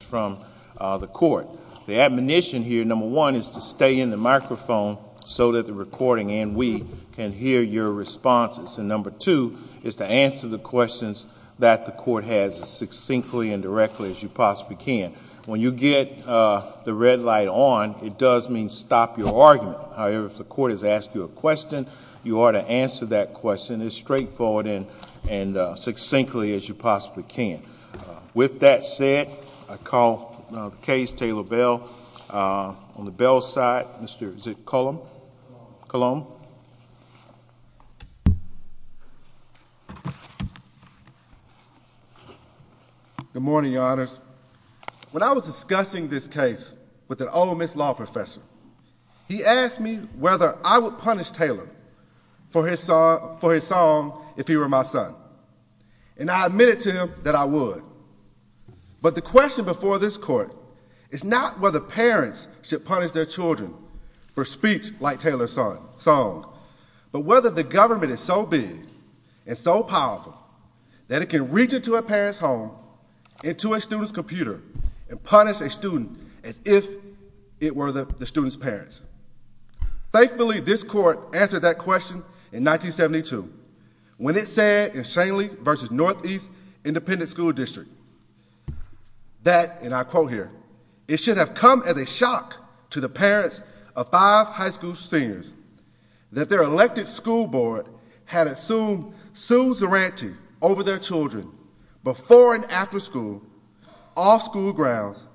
from the court. The admonition here, number one, is to stay in the microphone so that the recording and we can hear your responses. And number two, is to answer the questions that the court has as succinctly and directly as you possibly can. When you get the red light on, it does mean stop your argument. However, if the court has asked you a question, you ought to answer that question as straightforward and succinctly as you possibly can. With that said, I call the case, Taylor Bell. On the Bell side, Mr. Ziccolombe. Good morning, Your Honors. When I was discussing this case with an Ole Miss law professor, he asked me whether I would punish Taylor for his song if he were my son. And I admitted to him that I would. But the question before this court is not whether parents should punish their children for speech like Taylor's songs, but whether the government is so big and so powerful that it can reach into a parent's home, into a student's computer, and punish a student as if it were the student's parents. Thankfully, this court answered that question in 1972, when it said in Shanley v. Northeast Independent School District that, and I quote here, it should have come as a shock to the parents of five high school seniors that their elected school board had assumed suzerainty over their children before and after school, off school grounds,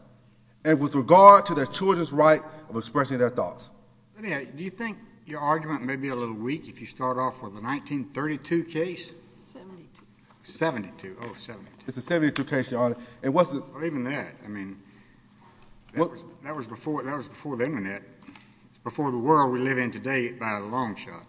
and with regard to their children's right of expression of their thoughts. Do you think your argument may be a little weak if you start off with a 1932 case? It's a 1972 case, Your Honor. That was before the internet, before the world we live in today by a long shot.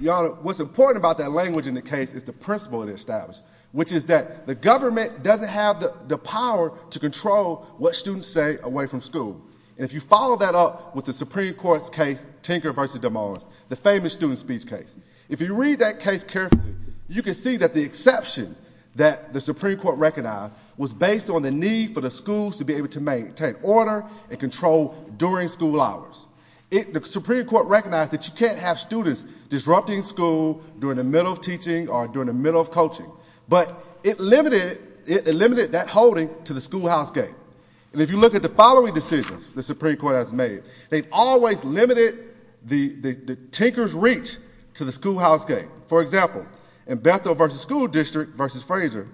Your Honor, what's important about that language in the case is the principle it established, which is that the government doesn't have the power to control what students say away from school. If you follow that up with the Supreme Court's case, Tinker v. DeMoss, the famous student speech case, if you read that case carefully, you can see that the exception that the Supreme Court recognized was based on the need for the schools to be able to maintain order and control during school hours. The Supreme Court recognized that you can't have students disrupting school during the middle of teaching or during the middle of coaching, but it limited that holding to the schoolhouse game. If you look at the following decisions the Supreme Court has made, they've always limited the Tinker's reach to the schoolhouse game. For example, in Bethel v. School District v. Fraser,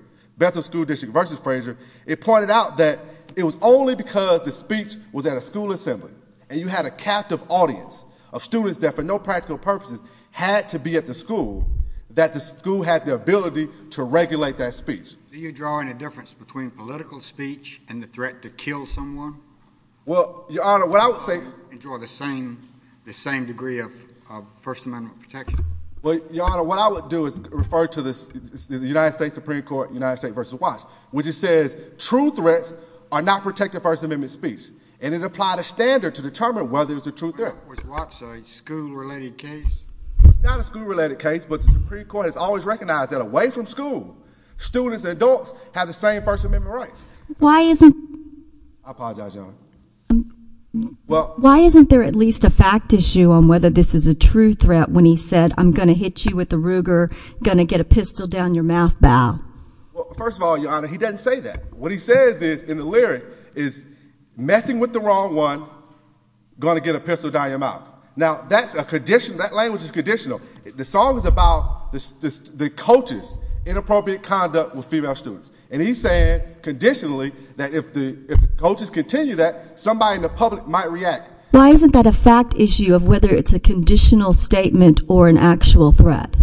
it pointed out that it was only because the speech was at a school assembly and you had a captive audience of students that for no practical purpose had to be at the school that the school had the ability to regulate that speech. Are you drawing a difference between political speech and the threat to kill someone? Well, Your Honor, what I would say... You draw the same degree of First Amendment protection? Well, Your Honor, what I would do is refer to the United States Supreme Court, United States v. Watts, which says true threats are not protected First Amendment speech, and it applied a standard to determine whether it's a true threat. Was Watts a school-related case? Not a school-related case, but the Supreme Court has always recognized that away from school, students and Why isn't there at least a fact issue on whether this is a true threat when he said, I'm going to hit you with the Ruger, going to get a pistol down your mouth, Bob? Well, first of all, Your Honor, he doesn't say that. What he says in the lyric is messing with the wrong one, going to get a pistol down your mouth. Now that's a condition, that language is conditional. The song is about the coach's inappropriate conduct with female students, and he's saying, conditionally, that if the coaches continue that, somebody in the public might react. Why isn't that a fact issue of whether it's a conditional statement or an actual threat?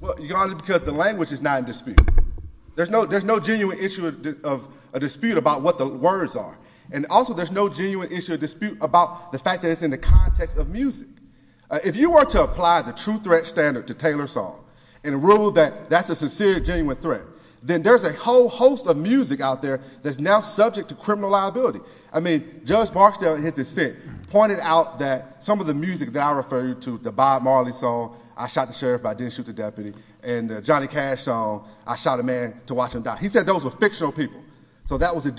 Well, Your Honor, because the language is not in dispute. There's no genuine issue of a dispute about what the words are, and also there's no genuine issue of dispute about the fact that it's in the context of music. If you were to apply the true threat standard to Taylor's song and rule that that's a sincere, genuine threat, then there's a whole host of music out there that's now subject to criminal liability. I mean, Judge Barstow, in his defense, pointed out that some of the music that I referred to, the Bob Marley song, I Shot the Sheriff, I Didn't Shoot the Deputy, and the Johnny Cash song, I Shot a Man to Watch Him Die, he said those were fictional people. So that was the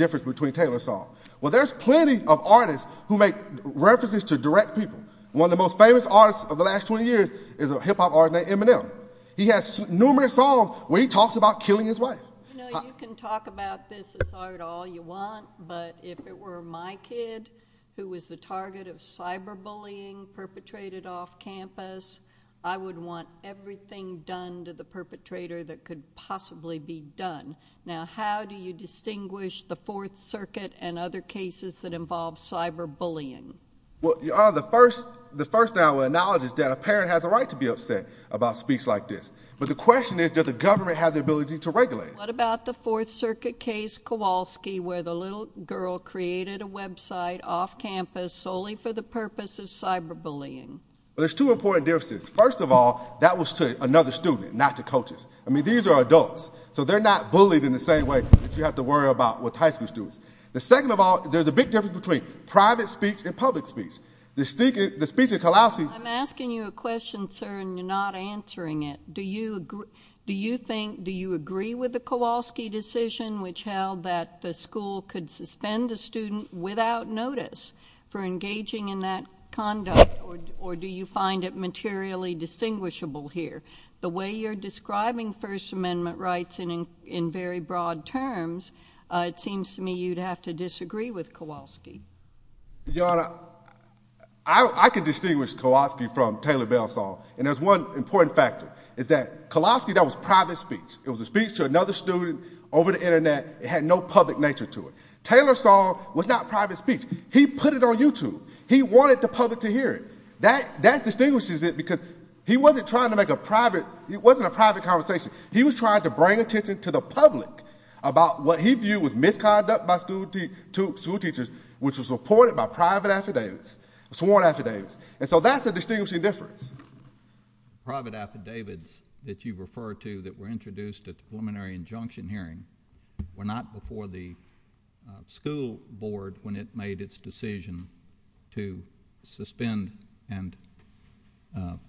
One of the most famous artists of the last 20 years is a hip-hop artist named Eminem. He has numerous songs where he talks about killing his wife. I know you can talk about this as hard all you want, but if it were my kid who was the target of cyberbullying perpetrated off campus, I would want everything done to the perpetrator that could possibly be done. Now, how do you distinguish the Fourth Circuit and other cases that involve cyberbullying? Well, Your Honor, the first analogy is that a parent has a right to be upset about speech like this. But the question is, does the government have the ability to regulate it? What about the Fourth Circuit case, Kowalski, where the little girl created a website off campus solely for the purpose of cyberbullying? Well, there's two important differences. First of all, that was to another student, not to coaches. I mean, these are adults, so they're not bullied in the same way that you have to worry about with high school students. The second of all, there's a big difference between private speech and public speech. The speech at Kowalski... I'm asking you a question, sir, and you're not answering it. Do you agree with the Kowalski decision which held that the school could suspend a student without notice for engaging in that conduct, or do you find it materially distinguishable here? The way you're describing First Amendment rights in very broad terms, it seems to me you'd have to disagree with Kowalski. Your Honor, I could distinguish Kowalski from Taylor Belsall, and there's one important factor, is that Kowalski, that was private speech. It was a speech to another student over the Internet. It had no public nature to it. Taylor Belsall was not private speech. He put it on YouTube. He wanted the public to hear it. That distinguishes it because he wasn't trying to make a private...it wasn't a private conversation. He was trying to bring attention to the public about what he viewed as misconduct by school teachers, which was reported by private affidavits, sworn affidavits, and so that's a distinguishing difference. Private affidavits that you refer to that were introduced at the preliminary injunction hearing were not before the school board when it made its decision to suspend and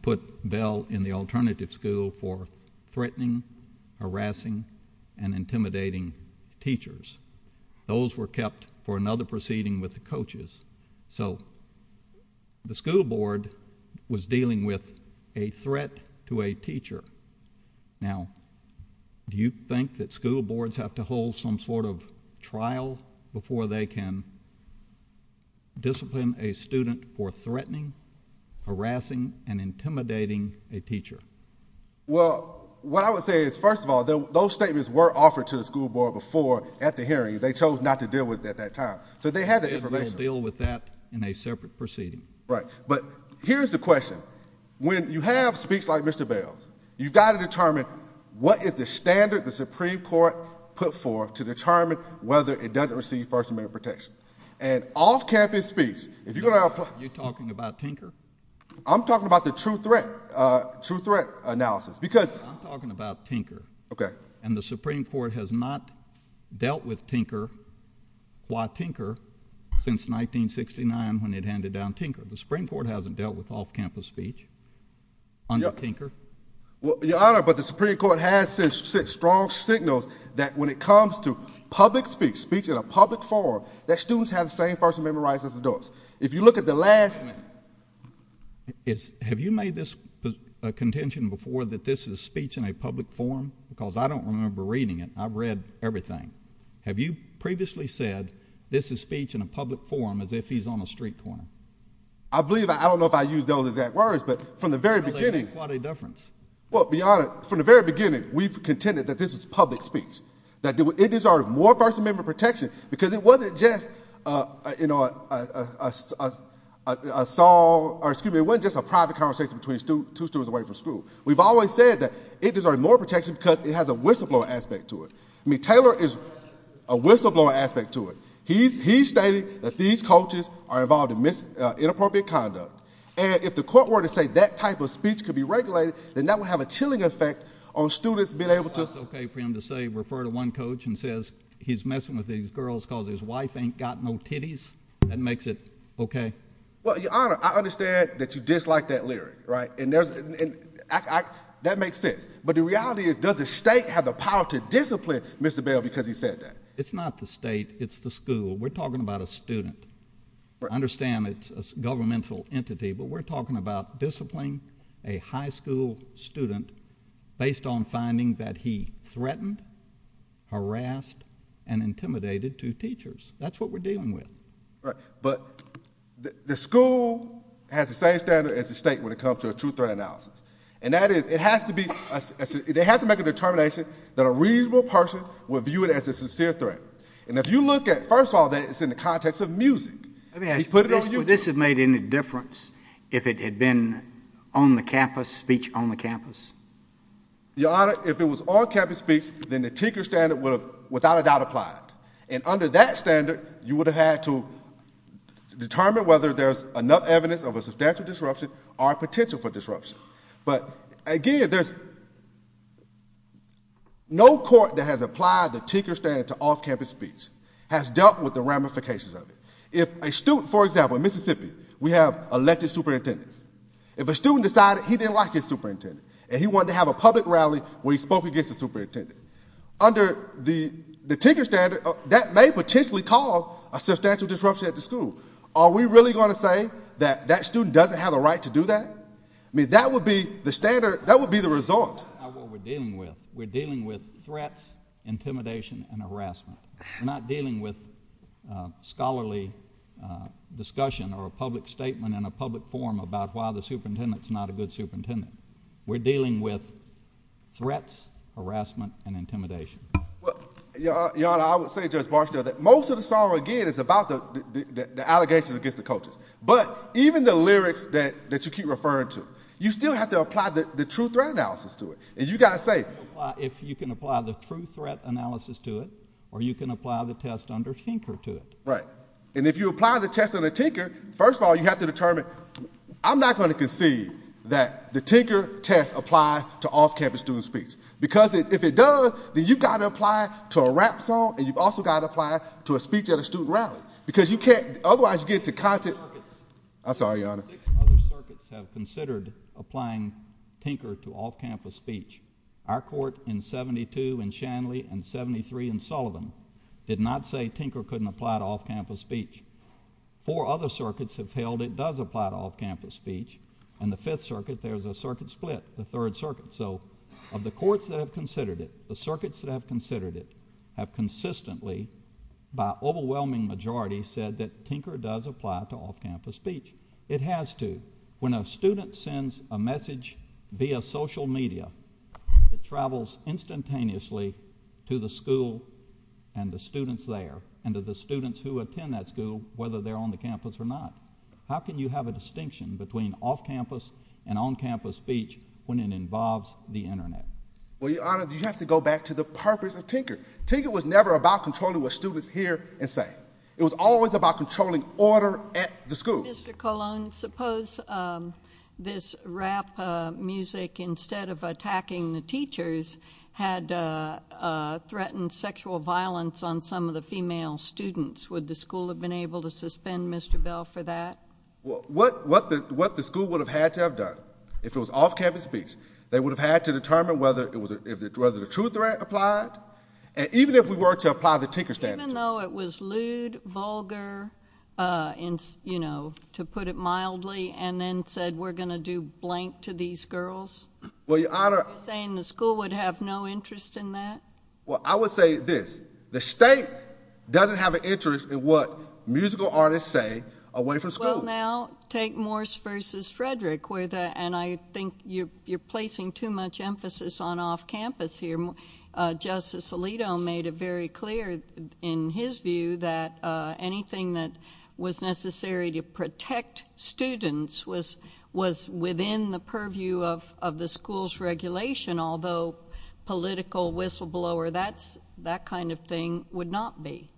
put Bell in the alternative school for threatening, harassing, and intimidating teachers. Those were kept for another proceeding with the coaches. So the school board was dealing with a threat to a teacher. Now, do you think that school boards have to hold some sort of trial before they can discipline a student for threatening, harassing, and intimidating a teacher? Well, what I would say is, first of all, those statements were offered to the school board before at the hearing. They chose not to deal with it at that time. So they had the information. They deal with that in a separate proceeding. Right. But here's the question. When you have speech like Mr. Bell's, you've got to determine what is the standard the Supreme Court put forth to determine whether it doesn't receive First Amendment protection. And off-campus speech, if you're going to have... You're talking about Tinker? I'm talking about the true threat, true threat analysis, because... I'm talking about Tinker. Okay. And the Supreme Court has not dealt with Tinker, why Tinker, since 1969 when they handed down Tinker. The Supreme Court hasn't dealt with off-campus speech under Tinker? Your Honor, but the Supreme Court has sent strong signals that when it comes to public speech, speech in a public forum, that students have the same First Amendment rights as adults. If you look at the last... Have you made this contention before that this is speech in a public forum? Because I don't remember reading it. I've read everything. Have you previously said this is speech in a public forum as if he's on a street corner? I believe, I don't know if I used those exact words, but from the very beginning... I think there's quite a difference. Well, to be honest, from the very beginning, we've contended that this is public speech. That it deserves more First Amendment protection because it wasn't just a private conversation between two students away from school. We've always said that it deserves more protection because it has a whistleblower aspect to it. I mean, Taylor has a whistleblower aspect to it. He's stating that these coaches are involved in inappropriate conduct. And if the court were to say that type of speech could be regulated, then that would have a chilling effect on students being able to... If the court were to one coach and says he's messing with these girls because his wife ain't got no titties, that makes it okay? Well, Your Honor, I understand that you dislike that lyric, right? And that makes sense. But the reality is, does the state have the power to discipline Mr. Bell because he said that? It's not the state. It's the school. We're talking about a student. I understand it's a governmental entity, but we're talking about disciplining a high school student based on finding that he threatened, harassed, and intimidated two teachers. That's what we're dealing with. But the school has the same standard as the state when it comes to a true threat analysis. And that is, it has to make a determination that a reasonable person would view it as a sincere threat. And if you look at, first of all, it's in the context of music. Would this have made any difference if it had been on-campus speech on the campus? Your Honor, if it was on-campus speech, then the Tinker Standard would have, without a doubt, applied. And under that standard, you would have had to determine whether there's enough evidence of a substantial disruption or potential for disruption. But again, there's no court that has applied the Tinker Standard to off-campus speech, has dealt with the ramifications of it. If a student, for example, in Mississippi, we have elected superintendents. If a student decided he didn't like his superintendent and he wanted to have a public rally when he spoke against the superintendent, under the Tinker Standard, that may potentially cause a substantial disruption at the school. Are we really going to say that that student doesn't have a right to do that? I mean, that would be the standard, that would be the result. That's not what we're dealing with. We're dealing with threats, intimidation, and harassment. We're not dealing with scholarly discussion or a public statement in a public forum about why the superintendent's not a good superintendent. We're dealing with threats, harassment, and intimidation. Your Honor, I would say, Judge Barstow, that most of the song, again, is about the allegations against the coaches. But even the lyrics that you keep referring to, you still have to apply the true threat analysis to it. And you've got to say it. If you can apply the true threat analysis to it, or you can apply the test under Tinker to it. Right. And if you apply the test under Tinker, first of all, you have to determine I'm not going to concede that the Tinker test applies to off-campus student speech. Because if it does, then you've got to apply it to a rap song and you've also got to apply it to a speech at a student rally. I'm sorry, Your Honor. Four other circuits have considered applying Tinker to off-campus speech. Our court in 72 in Shanley and 73 in Sullivan did not say Tinker couldn't apply to off-campus speech. Four other circuits have held it does apply to off-campus speech. In the Fifth Circuit, there's a circuit split, the Third Circuit. So, of the courts that have considered it, the circuits that have considered it have consistently, by overwhelming majority, said that Tinker does apply to off-campus speech. It has to. When a student sends a message via social media it travels instantaneously to the school and the students there and to the students who attend that school, whether they're on the campus or not. How can you have a distinction between off-campus and on-campus speech when it involves the Internet? Well, Your Honor, you have to go back to the purpose of Tinker. Tinker was never about controlling what students hear and say. It was always about controlling order at the school. Mr. Colon, suppose this rap music, instead of attacking the teachers had threatened sexual violence on some of the female students. Would the school have been able to suspend Mr. Bell for that? What the school would have had to have done if it was off-campus speech, they would have had to determine whether the true threat applied. Even if we were to apply the Tinker statute. Even though it was lewd, vulgar, to put it mildly and then said we're going to do blank to these girls? You're saying the school would have no interest in that? Well, I would say this, the state doesn't have an interest in what musical artists say away from school. Well, now take Morse v. Frederick and I think you're placing too much emphasis on off-campus here. I think Justice Alito made it very clear in his view that anything that was necessary to protect students was within the purview of the school's regulation although political whistleblower, that kind of thing would not be.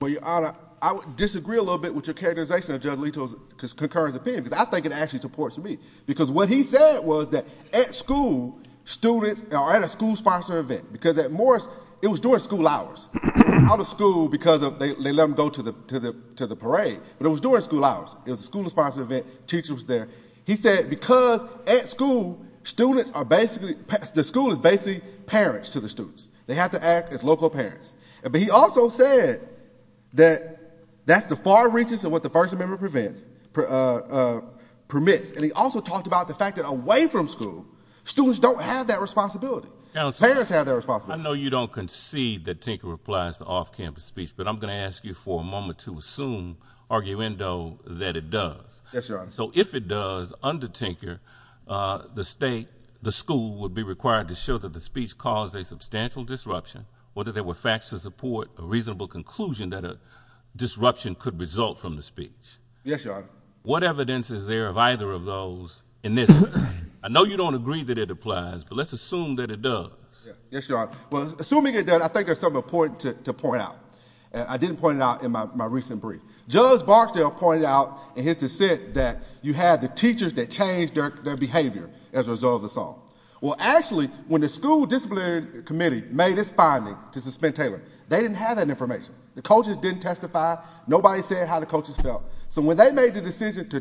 Well, Your Honor, I disagree a little bit with your characterization of Judge Alito's concurrence opinion. I think it actually supports me because what he said was that at school, students are at a school-sponsored event because at Morse, it was during school hours. Out of school because they let them go to the parade but it was during school hours. It was a school-sponsored event, teacher was there. He said because at school, students are basically the school is basically parents to the students. They have to act as local parents. But he also said that that's the far reaches of what the First Amendment permits. And he also talked about the fact that away from school, students don't have that responsibility. Parents have that responsibility. I know you don't concede that Tinker applies to off-campus speech but I'm going to ask you for a moment to assume, arguendo, that it does. Yes, Your Honor. So if it does, under Tinker, the school would be required to show that the speech caused a substantial disruption whether there were facts to support a reasonable conclusion that a disruption could result from the speech. Yes, Your Honor. What evidence is there of either of those in this case? I know you don't agree that it applies but let's assume that it does. Yes, Your Honor. Well, assuming it does, I think there's something important to point out. I didn't point it out in my recent brief. Judge Barksdale pointed out in his dissent that you had the teachers that changed their behavior as a result of the song. Well, actually, when the School Discipline Committee made its finding to suspend Taylor, they didn't have that information. The coaches didn't testify. Nobody said how the coaches felt. So when they made the decision to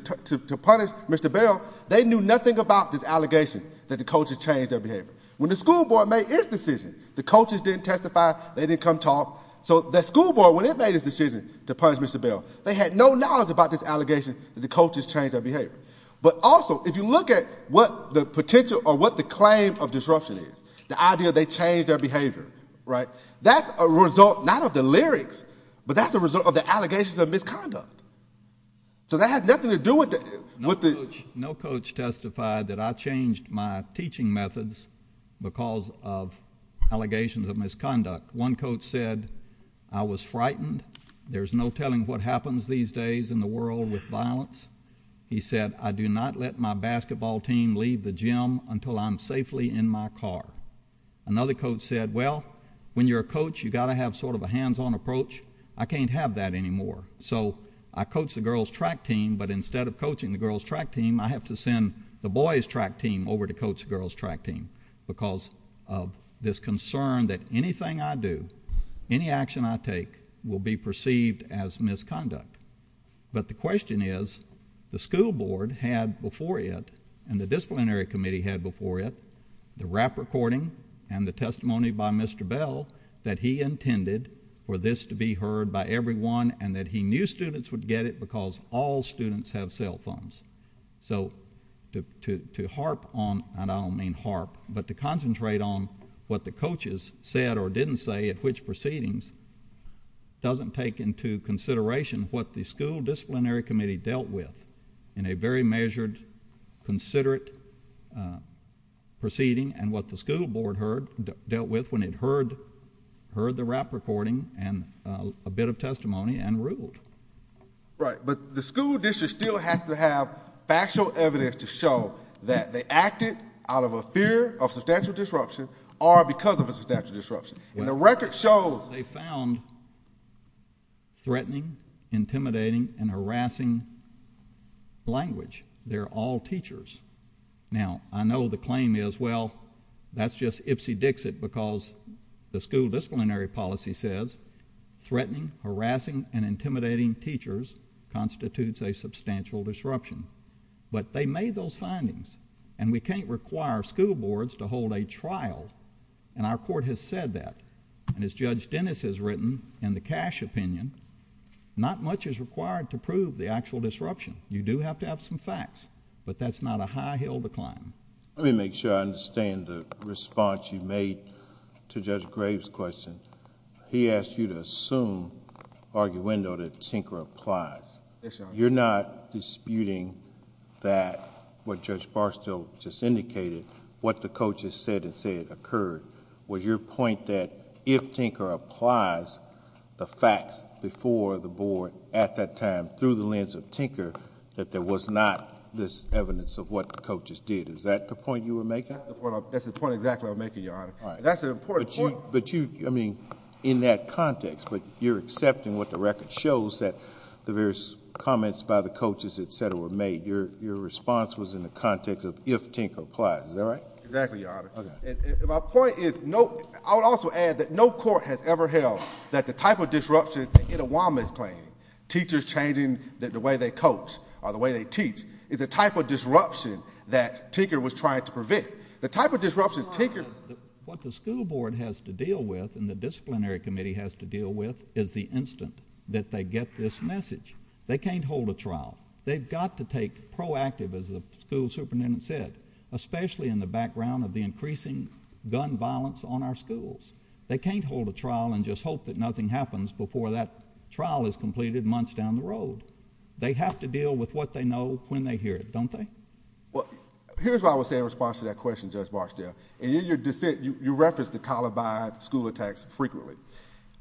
punish Mr. Bell, they knew nothing about this allegation that the coaches changed their behavior. When the school board made its decision, the coaches didn't testify. They didn't come talk. So the school board, when it made its decision to punish Mr. Bell, they had no knowledge about this allegation that the coaches changed their behavior. But also, if you look at what the potential or what the claim of disruption is, the idea they changed their behavior, that's a result not of the lyrics but that's a result of the allegations of misconduct. So that had nothing to do with it. No coach testified that I changed my teaching methods because of allegations of misconduct. One coach said I was frightened. There's no telling what happens these days in the world with violence. He said I do not let my basketball team leave the gym until I'm safely in my car. Another coach said, well, when you're a coach, you've got to have sort of a hands-on approach. I can't have that anymore. So I coach the girls' track team, but instead of coaching the girls' track team, I have to send the boys' track team over to coach the girls' track team because of this concern that anything I do, any action I take will be perceived as misconduct. But the question is, the school board had before it and the disciplinary committee had before it the rap recording and the testimony by Mr. Bell that he intended for this to be heard by everyone and that he knew students would get it because all students have cell phones. So to harp on, and I don't mean harp, but to concentrate on what the coaches said or didn't say at which proceedings doesn't take into consideration what the school disciplinary committee dealt with in a very measured, considerate proceeding and what the school board dealt with when it heard the rap recording and a bit of testimony and ruled. Right, but the school district still has to have factual evidence to show that they acted out of a fear of substantial disruption or because of a substantial disruption. And the record shows they found threatening, intimidating, and harassing language. They're all teachers. Now, I know the claim is, well, that's just ipsy-dixit because the school disciplinary policy says threatening, harassing, and intimidating teachers constitutes a substantial disruption. But they made those findings and we can't require school boards to hold a trial. And our court has said that. And as Judge Dennis has written in the Cash opinion, not much is required to prove the actual disruption. You do have to have some facts. But that's not a high hill to climb. Let me make sure I understand the response you made to Judge Graves' question. He asked you to assume arguendo that Tinker applies. You're not disputing that what Judge Barstow just indicated, what the coaches said and said occurred. Was your point that if Tinker applies the facts before the board at that time through the lens of Tinker that there was not this evidence of what the coaches did? Is that the point you were making? That's the point exactly I was making, Your Honor. That's an important point. But you, I mean, in that context, but you're accepting what the record shows that the various comments by the coaches, et cetera, were made. Your response was in the context of if Tinker applies. Is that right? Exactly, Your Honor. My point is, I would also add that no court has ever held that the type of disruption in a Wildman claim, teachers changing the way they coach or the way they teach, is the type of disruption that Tinker was trying to prevent. The type of disruption Tinker— What the school board has to deal with and the disciplinary committee has to deal with is the instant that they get this message. They can't hold a trial. They've got to take proactive, as the school superintendent said, especially in the background of the increasing gun violence on our schools. They can't hold a trial and just hope that nothing happens before that trial is completed months down the road. They have to deal with what they know when they hear it, don't they? Well, here's what I would say in response to that question, Judge Varshtey. And in your defense, you referenced the calibi school attacks frequently.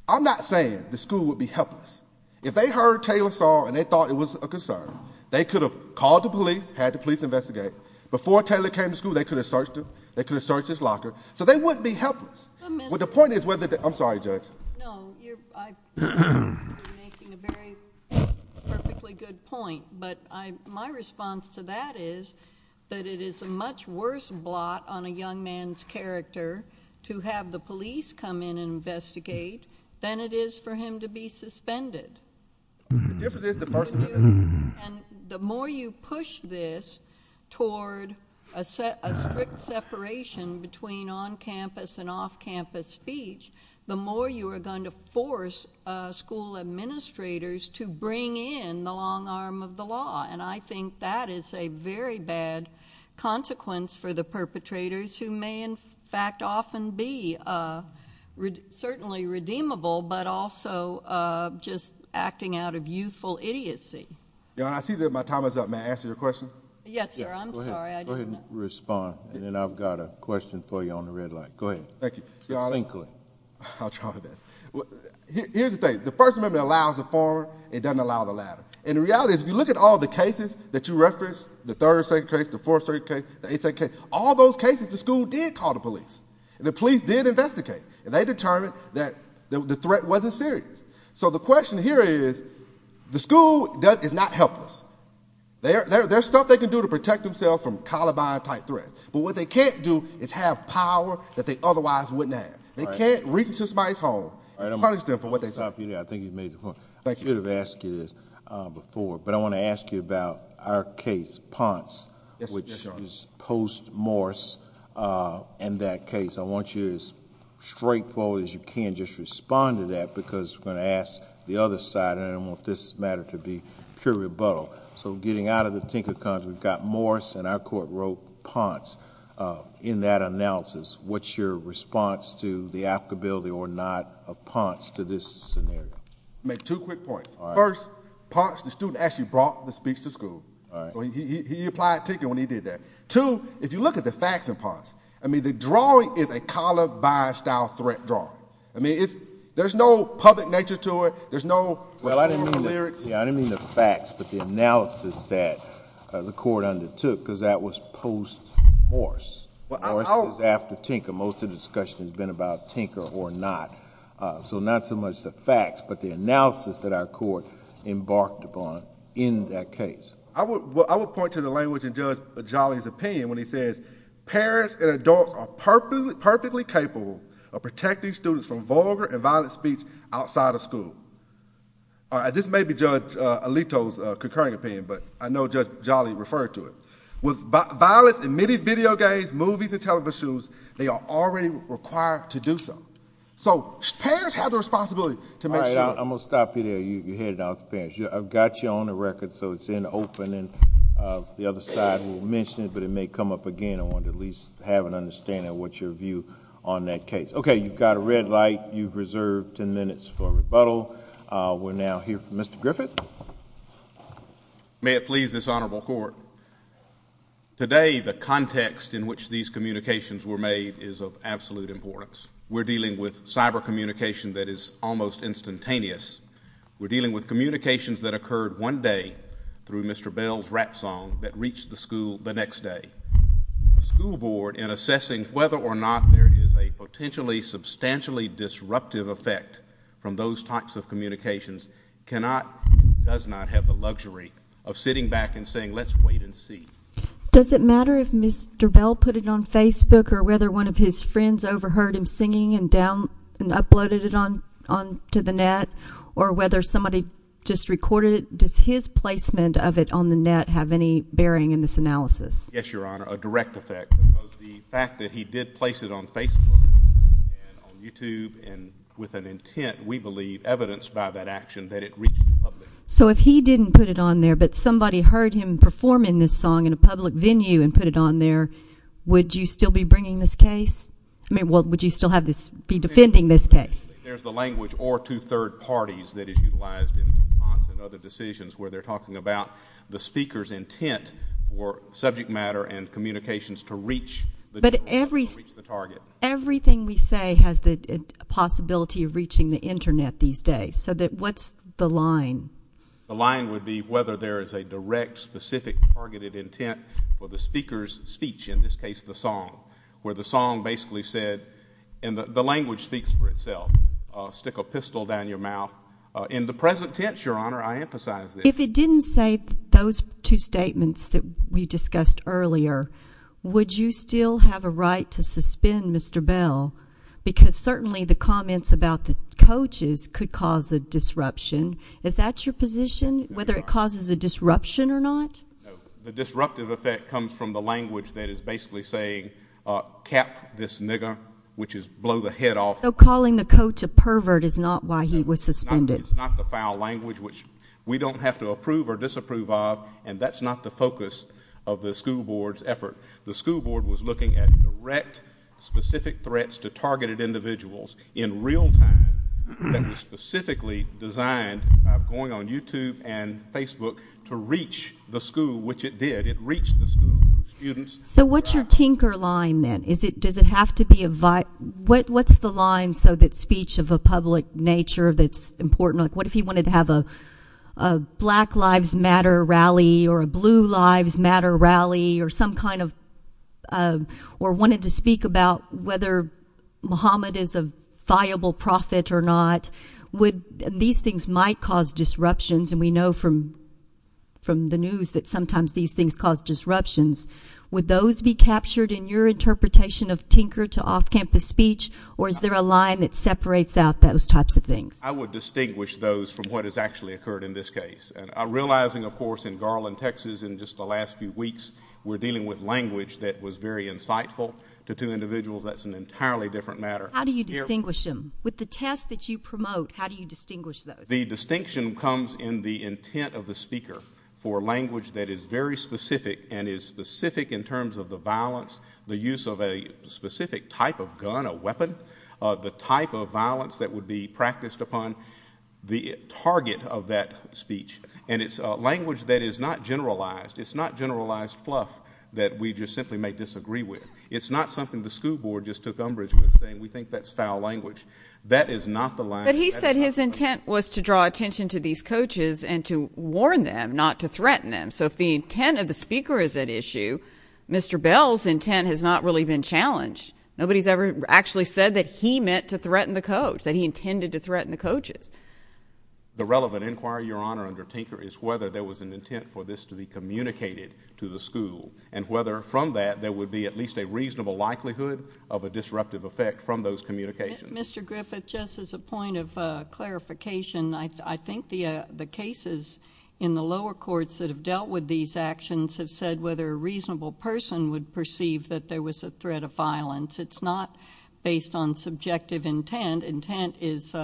I'm not saying the school would be helpless. If they heard Taylor's story and they thought it was a concern, they could have called the police, had the police investigate. Before Taylor came to school, they could have searched him. They could have searched his locker. So they wouldn't be helpless. But the point is whether—I'm sorry, Judge. No, I think you're making a very perfectly good point. But my response to that is that it is a much worse blot on a young man's character to have the police come in and investigate than it is for him to be suspended. Yes, it is the first— And the more you push this toward a strict separation between on-campus and off-campus speech, the more you are going to force school administrators to bring in the long arm of the law. And I think that is a very bad consequence for the perpetrators who may, in fact, often be certainly redeemable, but also just acting out of youthful idiocy. Yeah, I see that my time is up. May I answer your question? Yes, sir. I'm sorry. Go ahead and respond, and then I've got a question for you on the red light. Go ahead. Thank you. I'll try that. Here's the thing. The first amendment allows the form. It doesn't allow the latter. And in reality, if you look at all the cases that you referenced, the third state case, the fourth state case, the eighth state case, all those cases the school did call the police. And the police did investigate. And they determined that the threat wasn't serious. So the question here is the school is not helpless. There's stuff they can do to protect themselves from calibi-type threats. But what they can't do is have power that they otherwise wouldn't have. They can't reach into somebody's home and punish them for what they've done. I think you've made the point. I should have asked you this before, but I want to ask you about our case, Ponce, which is post-Morris and that case. I want you to be as straightforward as you can just respond to that, because we're going to ask the other side, and I want this matter to be pure rebuttal. So getting out of the thinker, because we've got Morris, and our court wrote Ponce in that analysis. What's your response to the applicability or not of Ponce to this scenario? I'll make two quick points. First, Ponce, the student, actually brought the speech to school. So he applied for a ticket when he did that. Two, if you look at the facts in Ponce, I mean, the drawing is a calibi-style threat drawing. I mean, there's no public nature to it. There's no real theory. I didn't mean the facts, but the analysis that the court undertook, because that was post-Morris. Morris is after Tinker. Most of the discussion has been about Tinker or not. So not so much the facts, but the analysis that our court embarked upon in that case. I would point to the language in Judge Jolly's opinion when he said, parents and adults are perfectly capable of protecting students from vulgar and violent speech outside of school. This may be Judge Alito's concurring opinion, but I know Judge Jolly referred to it. With violence in many video games, movies, and television, they are already required to do so. So parents have a responsibility to make sure. All right, I'm going to stop you there. You're heading off, parents. I've got you on the record, so it's in the opening. The other side will mention it, but it may come up again. I want to at least have an understanding of what's your view on that case. Okay, you've got a red light. You've reserved ten minutes for rebuttal. We'll now hear from Mr. Griffith. May it please this Honorable Court, today the context in which these communications were made is of absolute importance. We're dealing with cyber communication that is almost instantaneous. We're dealing with communications that occurred one day through Mr. Bell's rap song that reached the school the next day. The school board, in assessing whether or not there is a potentially substantially disruptive effect from those types of communications, does not have the luxury of sitting back and saying, let's wait and see. Does it matter if Mr. Bell put it on Facebook or whether one of his friends overheard him singing and uploaded it onto the net or whether somebody just recorded it? Does his placement of it on the net have any bearing in this analysis? Yes, Your Honor, a direct effect. The fact that he did place it on Facebook and on YouTube and with an intent, we believe, evidenced by that action that it reached the public. So if he didn't put it on there but somebody heard him performing this song in a public venue and put it on there, would you still be bringing this case? I mean, would you still be defending this case? There's the language or two third parties that is utilized in response to other decisions where they're talking about the speaker's intent or subject matter and communications to reach the target. But everything we say has the possibility of reaching the Internet these days. So what's the line? The line would be whether there is a direct specific targeted intent for the speaker's speech, in this case the song, where the song basically said, and the language speaks for itself, stick a pistol down your mouth. In the present tense, Your Honor, I emphasize this. If it didn't say those two statements that we discussed earlier, would you still have a right to suspend Mr. Bell? Because certainly the comments about the coaches could cause a disruption. Is that your position, whether it causes a disruption or not? The disruptive effect comes from the language that is basically saying, cap this nigger, which is blow the head off. So calling the coach a pervert is not why he was suspended. It's not the foul language, which we don't have to approve or disapprove of, and that's not the focus of the school board's effort. The school board was looking at direct specific threats to targeted individuals in real time that was specifically designed, going on YouTube and Facebook, to reach the school, which it did. It reached the school students. So what's your tinker line then? What's the line so that speech of a public nature that's important? What if he wanted to have a Black Lives Matter rally or a Blue Lives Matter rally or wanted to speak about whether Muhammad is a viable prophet or not? These things might cause disruptions, and we know from the news that sometimes these things cause disruptions. Would those be captured in your interpretation of tinker to off-campus speech, or is there a line that separates out those types of things? I would distinguish those from what has actually occurred in this case. Realizing, of course, in Garland, Texas, in just the last few weeks, we're dealing with language that was very insightful to two individuals. That's an entirely different matter. How do you distinguish them? With the test that you promote, how do you distinguish those? The distinction comes in the intent of the speaker for language that is very specific and is specific in terms of the violence, the use of a specific type of gun, a weapon, the type of violence that would be practiced upon the target of that speech. And it's language that is not generalized. It's not generalized fluff that we just simply may disagree with. It's not something the school board just took umbrage with, saying we think that's foul language. That is not the line. But he said his intent was to draw attention to these coaches and to warn them, not to threaten them. So if the intent of the speaker is at issue, Mr. Bell's intent has not really been challenged. Nobody's ever actually said that he meant to threaten the coach, that he intended to threaten the coaches. The relevant inquiry, Your Honor, under Tinker, is whether there was an intent for this to be communicated to the school and whether from that there would be at least a reasonable likelihood of a disruptive effect from those communications. Mr. Griffith, just as a point of clarification, I think the cases in the lower courts that have dealt with these actions have said whether a reasonable person would perceive that there was a threat of violence. It's not based on subjective intent. Intent is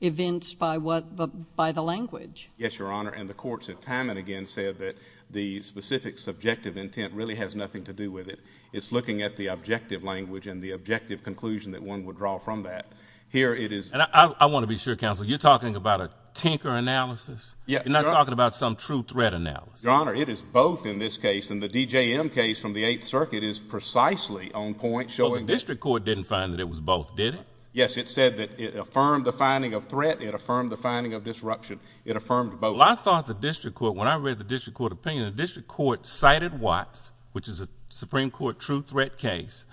evinced by the language. Yes, Your Honor. And the courts have time and again said that the specific subjective intent really has nothing to do with it. It's looking at the objective language and the objective conclusion that one would draw from that. Here it is. I want to be sure, Counselor, you're talking about a Tinker analysis? Yes. You're not talking about some true threat analysis? Your Honor, it is both in this case, and the DJM case from the Eighth Circuit is precisely on point showing this. Well, the district court didn't find that it was both, did it? Yes, it said that it affirmed the finding of threat, it affirmed the finding of disruption, it affirmed both. Well, I thought the district court, when I read the district court opinion, the district court cited Watts, which is a Supreme Court true threat case,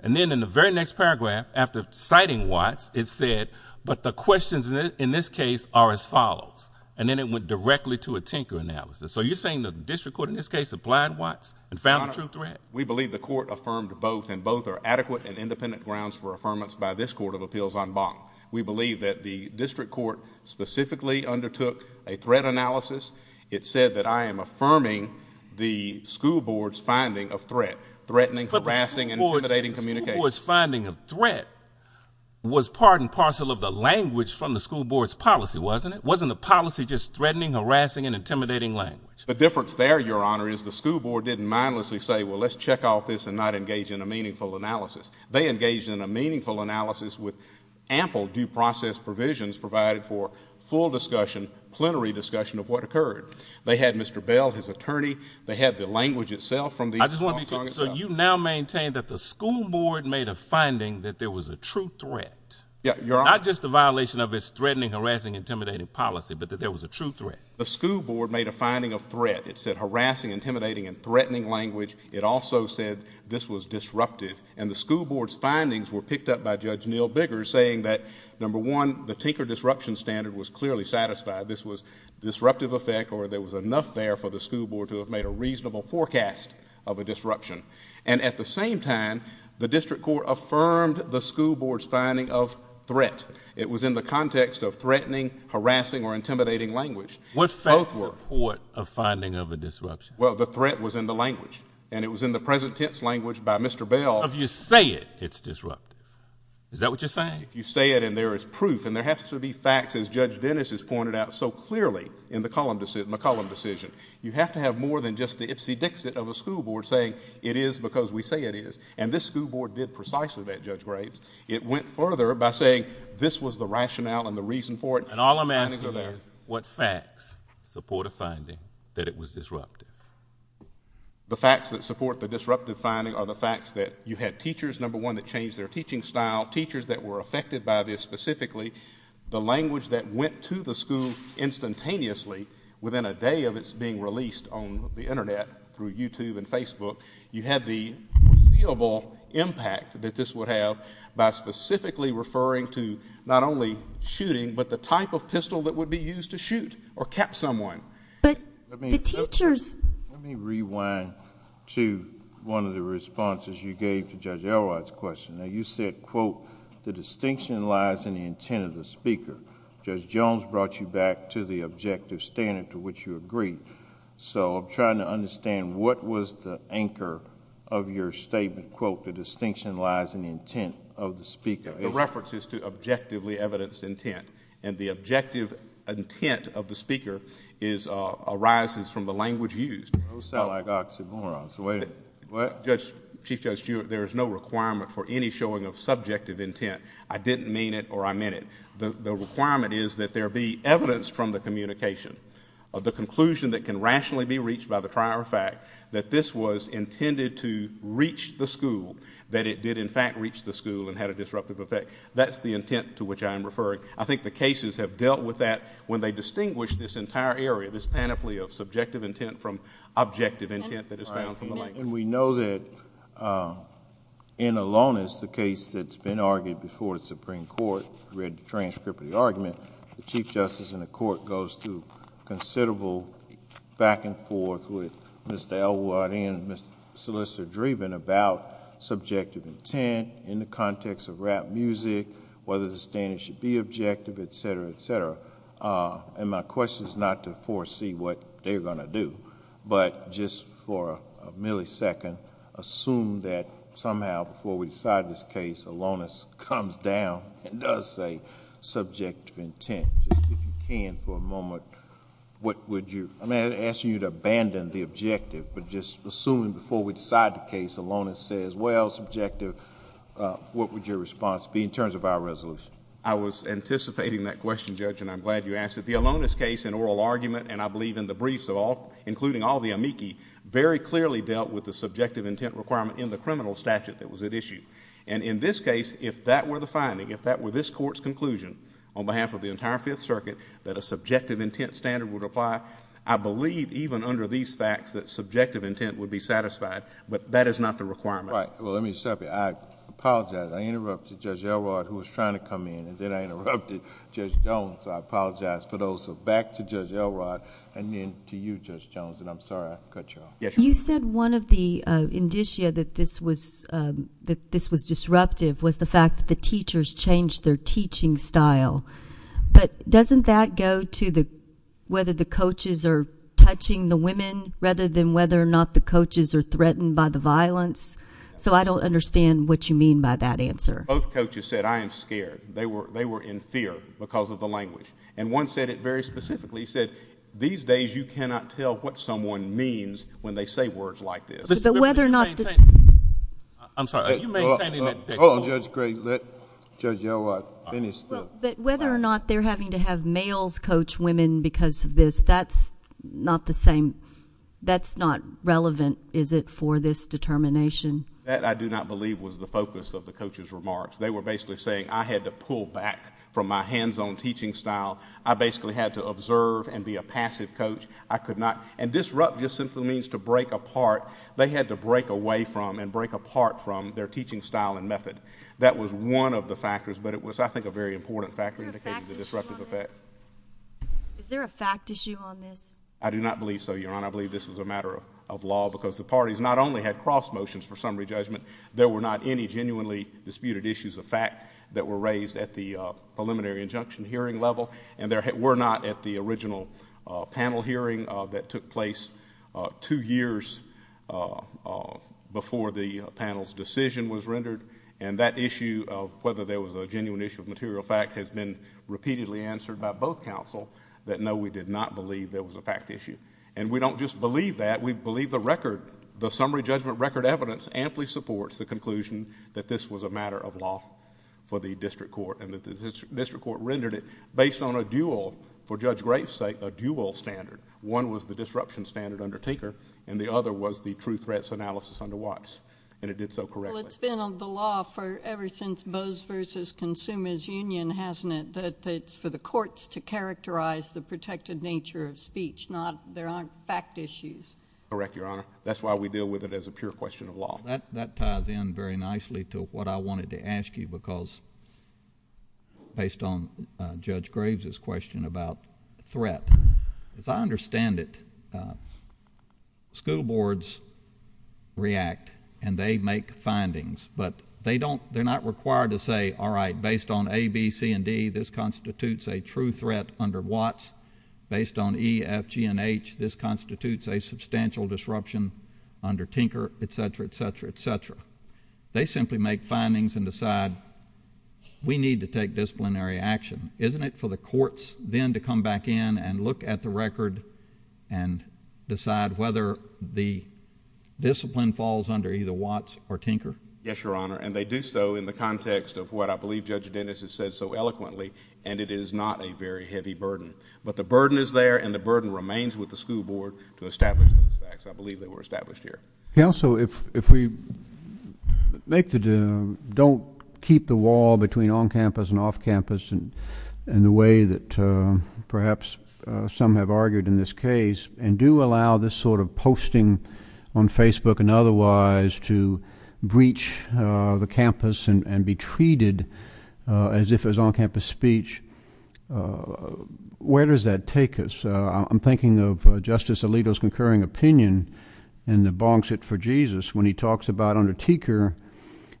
and then in the very next paragraph, after citing Watts, it said, but the questions in this case are as follows, and then it went directly to a Tinker analysis. So you're saying the district court in this case applied Watts and found a true threat? Your Honor, we believe the court affirmed both, and both are adequate and independent grounds for affirmance by this Court of Appeals en banc. We believe that the district court specifically undertook a threat analysis. It said that I am affirming the school board's finding of threat, threatening, harassing, and intimidating communication. The school board's finding of threat was part and parcel of the language from the school board's policy, wasn't it? Wasn't the policy just threatening, harassing, and intimidating language? The difference there, Your Honor, is the school board didn't mindlessly say, well, let's check off this and not engage in a meaningful analysis. They engaged in a meaningful analysis with ample due process provisions provided for full discussion, plenary discussion of what occurred. They had Mr. Bell, his attorney. They had the language itself from the school board. So you now maintain that the school board made a finding that there was a true threat? Yes, Your Honor. Not just a violation of its threatening, harassing, intimidating policy, but that there was a true threat? The school board made a finding of threat. It said harassing, intimidating, and threatening language. It also said this was disruptive. And the school board's findings were picked up by Judge Neal Biggers, saying that, number one, the Tinker disruption standard was clearly satisfied. This was disruptive effect or there was enough there for the school board to have made a reasonable forecast of a disruption. And at the same time, the district court affirmed the school board's finding of threat. It was in the context of threatening, harassing, or intimidating language. What's the court finding of a disruption? Well, the threat was in the language, and it was in the present tense language by Mr. Bell. If you say it, it's disruptive. Is that what you're saying? If you say it and there is proof, and there have to be facts, as Judge Dennis has pointed out so clearly in the Cullum decision, you have to have more than just the itsy-bitsy of a school board saying it is because we say it is. And this school board did precisely that, Judge Graves. It went further by saying this was the rationale and the reason for it. And all I'm asking is what facts support a finding that it was disruptive? The facts that support the disruptive finding are the facts that you had teachers, number one, that changed their teaching style, teachers that were affected by this specifically, the language that went to the school instantaneously within a day of its being released on the Internet through YouTube and Facebook. You had the feelable impact that this would have by specifically referring to not only shooting but the type of pistol that would be used to shoot or cap someone. Let me rewind to one of the responses you gave to Judge Elwott's question. Now, you said, quote, the distinction lies in the intent of the speaker. Judge Jones brought you back to the objective standard to which you agreed. So I'm trying to understand what was the anchor of your statement, quote, the distinction lies in the intent of the speaker. It references to objectively evidenced intent. And the objective intent of the speaker arises from the language used. So I got some more. Judge, there is no requirement for any showing of subjective intent. I didn't mean it or I meant it. The requirement is that there be evidence from the communication of the conclusion that can rationally be reached by the prior fact that this was intended to reach the school, that it did in fact reach the school and had a disruptive effect. That's the intent to which I am referring. I think the cases have dealt with that when they distinguish this entire area, this panoply of subjective intent from objective intent that is found from the language. And we know that in Alonis, the case that's been argued before the Supreme Court, read the transcript of the argument, the Chief Justice in the Court goes through considerable back and forth with Mr. Elwott and Mr. Solicitor Dreeben about subjective intent in the context of rap music, whether the stand should be objective, et cetera, et cetera. And my question is not to foresee what they're going to do, but just for a millisecond assume that somehow before we decide this case, Alonis comes down and does say subjective intent. Just if you can for a moment, what would you... I'm not asking you to abandon the objective, but just assume before we decide the case, Alonis says, well, subjective, what would your response be in terms of our resolution? I was anticipating that question, Judge, and I'm glad you asked it. The Alonis case in oral argument, and I believe in the briefs, including all the amici, very clearly dealt with the subjective intent requirement in the criminal statute that was at issue. And in this case, if that were the finding, if that were this Court's conclusion, on behalf of the entire Fifth Circuit, that a subjective intent standard would apply, I believe even under these facts that subjective intent would be satisfied, but that is not the requirement. All right. Well, let me stop you. I apologize. I interrupted Judge Elrod, who was trying to come in, and then I interrupted Judge Jones. So I apologize for those. So back to Judge Elrod, and then to you, Judge Jones, and I'm sorry I cut you off. You said one of the indicia that this was disruptive was the fact that the teachers changed their teaching style. But doesn't that go to whether the coaches are touching the women, rather than whether or not the coaches are threatened by the violence? So I don't understand what you mean by that answer. Both coaches said, I am scared. They were in fear because of the language. And one said it very specifically. He said, these days, you cannot tell what someone means when they say words like this. But whether or not the ---- I'm sorry. You may continue. Oh, Judge Gray, let Judge Elrod finish. But whether or not they're having to have males coach women because of this, that's not the same. That's not relevant, is it, for this determination? That, I do not believe, was the focus of the coaches' remarks. They were basically saying, I had to pull back from my hands-on teaching style. I basically had to observe and be a passive coach. I could not. And disrupt just simply means to break apart. They had to break away from and break apart from their teaching style and method. That was one of the factors. But it was, I think, a very important factor in the disruptive effect. Is there a fact issue on this? I do not believe so, Your Honor. I believe this was a matter of law because the parties not only had cross motions for summary judgment, there were not any genuinely disputed issues of fact that were raised at the preliminary injunction hearing level. And there were not at the original panel hearing that took place two years before the panel's decision was rendered. And that issue of whether there was a genuine issue of material fact has been repeatedly answered by both counsel that, no, we did not believe there was a fact issue. And we don't just believe that. We believe the record, the summary judgment record evidence, amply supports the conclusion that this was a matter of law for the district court. And the district court rendered it based on a dual, for Judge Graves' sake, a dual standard. One was the disruption standard undertaker, and the other was the true threats analysis on the watch. And it did so correctly. Well, it's been on the law ever since Bose v. Consumers Union, hasn't it, that it's for the courts to characterize the protected nature of speech, not there aren't fact issues. Correct, Your Honor. That's why we deal with it as a pure question of law. That ties in very nicely to what I wanted to ask you because, based on Judge Graves' question about threat, as I understand it, school boards react and they make findings. But they're not required to say, all right, based on A, B, C, and D, this constitutes a true threat under Watts. Based on E, F, G, and H, this constitutes a substantial disruption under Tinker, etc., etc., etc. They simply make findings and decide we need to take disciplinary action. Isn't it for the courts then to come back in and look at the record and decide whether the discipline falls under either Watts or Tinker? Yes, Your Honor, and they do so in the context of what I believe Judge Dennis has said so eloquently, and it is not a very heavy burden. But the burden is there and the burden remains with the school board to establish those facts. I believe they were established here. Counsel, if we don't keep the wall between on-campus and off-campus in the way that perhaps some have argued in this case and do allow this sort of posting on Facebook and otherwise to breach the campus and be treated as if it was on-campus speech, where does that take us? I'm thinking of Justice Alito's concurring opinion in the bonk suit for Jesus when he talks about under Tinker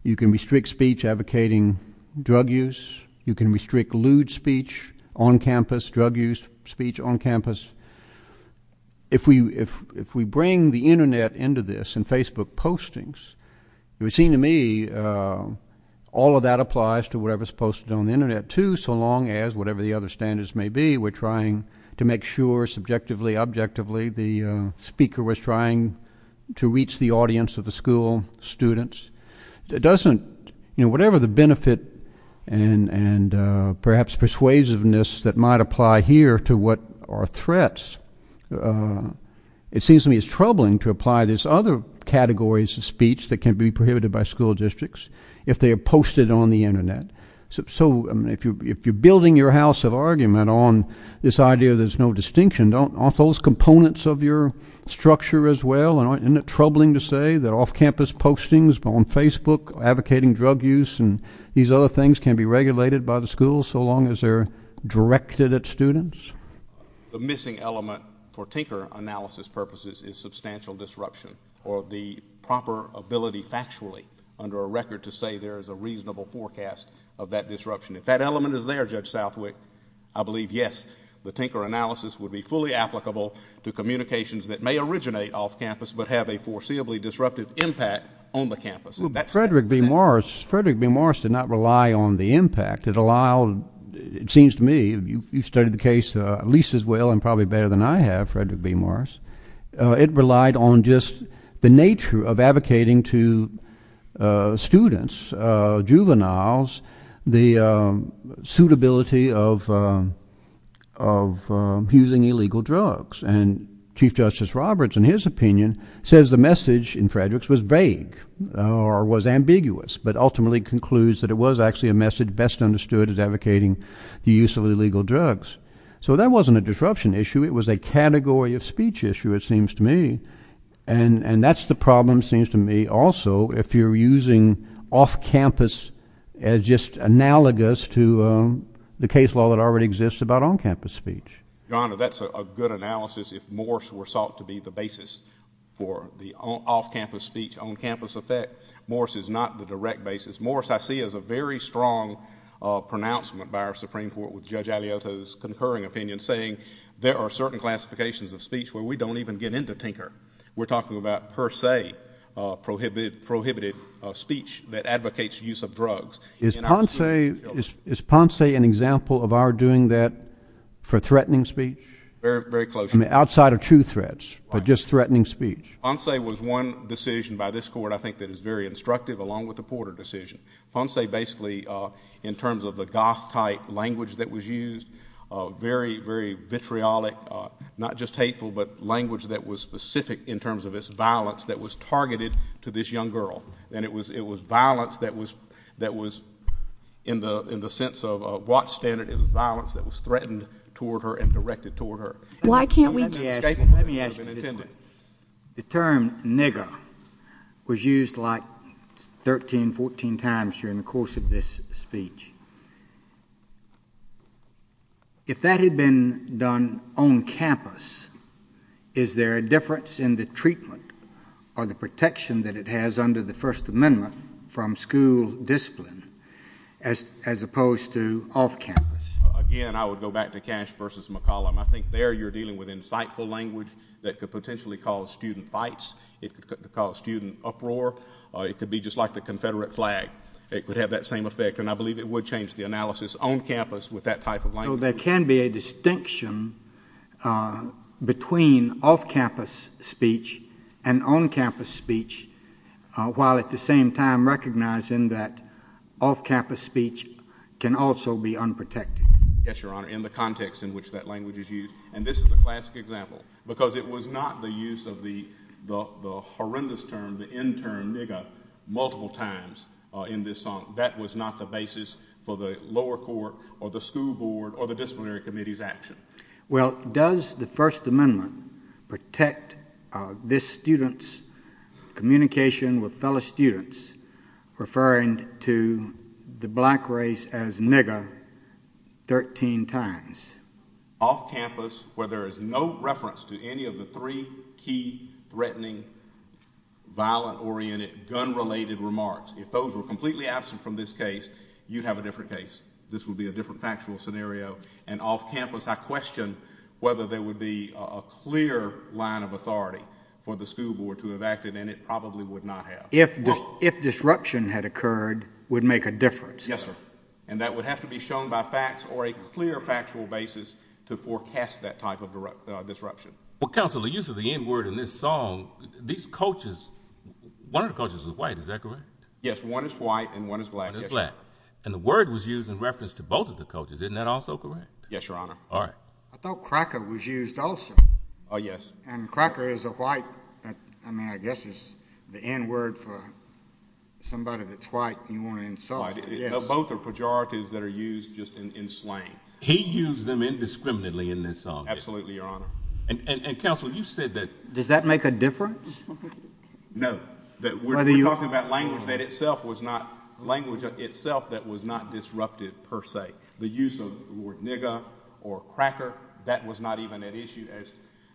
you can restrict speech advocating drug use, you can restrict lewd speech on campus, drug use speech on campus. If we bring the Internet into this and Facebook postings, it would seem to me all of that applies to whatever is posted on the Internet too, so long as, whatever the other standards may be, we're trying to make sure subjectively, objectively, the speaker was trying to reach the audience of the school students. Whatever the benefit and perhaps persuasiveness that might apply here to what are threats, it seems to me it's troubling to apply these other categories of speech that can be prohibited by school districts if they are posted on the Internet. So if you're building your house of argument on this idea that there's no distinction, aren't those components of your structure as well? Isn't it troubling to say that off-campus postings on Facebook advocating drug use and these other things can be regulated by the school so long as they're directed at students? The missing element for Tinker analysis purposes is substantial disruption or the proper ability factually under a record to say there is a reasonable forecast of that disruption. If that element is there, Judge Southwick, I believe, yes, the Tinker analysis would be fully applicable to communications that may originate off-campus but have a foreseeably disruptive impact on the campus. Frederick B. Morris did not rely on the impact. It allowed, it seems to me, you've studied the case at least as well and probably better than I have, Frederick B. Morris, it relied on just the nature of advocating to students, juveniles, the suitability of using illegal drugs and Chief Justice Roberts in his opinion says the message in Frederick's was vague or was ambiguous but ultimately concludes that it was actually a message best understood as advocating the use of illegal drugs. So that wasn't a disruption issue, it was a category of speech issue it seems to me and that's the problem seems to me also if you're using off-campus as just analogous to the case law that already exists about on-campus speech. Your Honor, that's a good analysis. If Morris were sought to be the basis for the off-campus speech, on-campus effect, Morris is not the direct basis. Morris I see as a very strong pronouncement by our Supreme Court with Judge Aliota's concurring opinion saying there are certain classifications of speech where we don't even get into tinker. We're talking about per se prohibited speech that advocates use of drugs. Is Ponce an example of our doing that for threatening speech? Very closely. Outside of two threats or just threatening speech? Ponce was one decision by this Court I think that is very instructive along with the Porter decision. Ponce basically in terms of the goth type language that was used, very, very vitriolic, not just hateful, but language that was specific in terms of its violence that was targeted to this young girl. And it was violence that was in the sense of goth standard is violence that was threatened toward her and directed toward her. Let me ask you this. The term nigger was used like 13, 14 times during the course of this speech. If that had been done on campus, is there a difference in the treatment or the protection that it has under the First Amendment from school discipline as opposed to off campus? Again, I would go back to Cash v. McCollum. I think there you're dealing with insightful language that could potentially cause student fights. It could cause student uproar. It could be just like the Confederate flag. It would have that same effect, and I believe it would change the analysis on campus with that type of language. So there can be a distinction between off-campus speech and on-campus speech while at the same time recognizing that off-campus speech can also be unprotected. Yes, Your Honor, in the context in which that language is used. And this is a classic example because it was not the use of the horrendous term, the N-term, nigger, multiple times in this song. That was not the basis for the lower court or the school board or the disciplinary committee's action. Well, does the First Amendment protect this student's communication with fellow students referring to the black race as nigger 13 times? Off campus where there is no reference to any of the three key threatening, violent-oriented, gun-related remarks. If those were completely absent from this case, you'd have a different case. This would be a different factual scenario. And off campus I question whether there would be a clear line of authority for the school board to have acted, and it probably would not have. If disruption had occurred, it would make a difference. Yes, sir. And that would have to be shown by facts or a clear factual basis to forecast that type of disruption. Well, counsel, the use of the N-word in this song, these cultures, one of the cultures is white, is that correct? Yes, one is white and one is black. And the word was used in reference to both of the cultures. Isn't that also correct? Yes, Your Honor. All right. I thought cracker was used also. Oh, yes. And cracker is a white, I mean, I guess it's the N-word for somebody that's white and you want to insult them. Both are pejoratives that are used just in slang. He used them indiscriminately in this song. Absolutely, Your Honor. And, counsel, you said that. Does that make a difference? No. We're talking about language that itself was not, language itself that was not disrupted per se. The use of the word nigger or cracker, that was not even an issue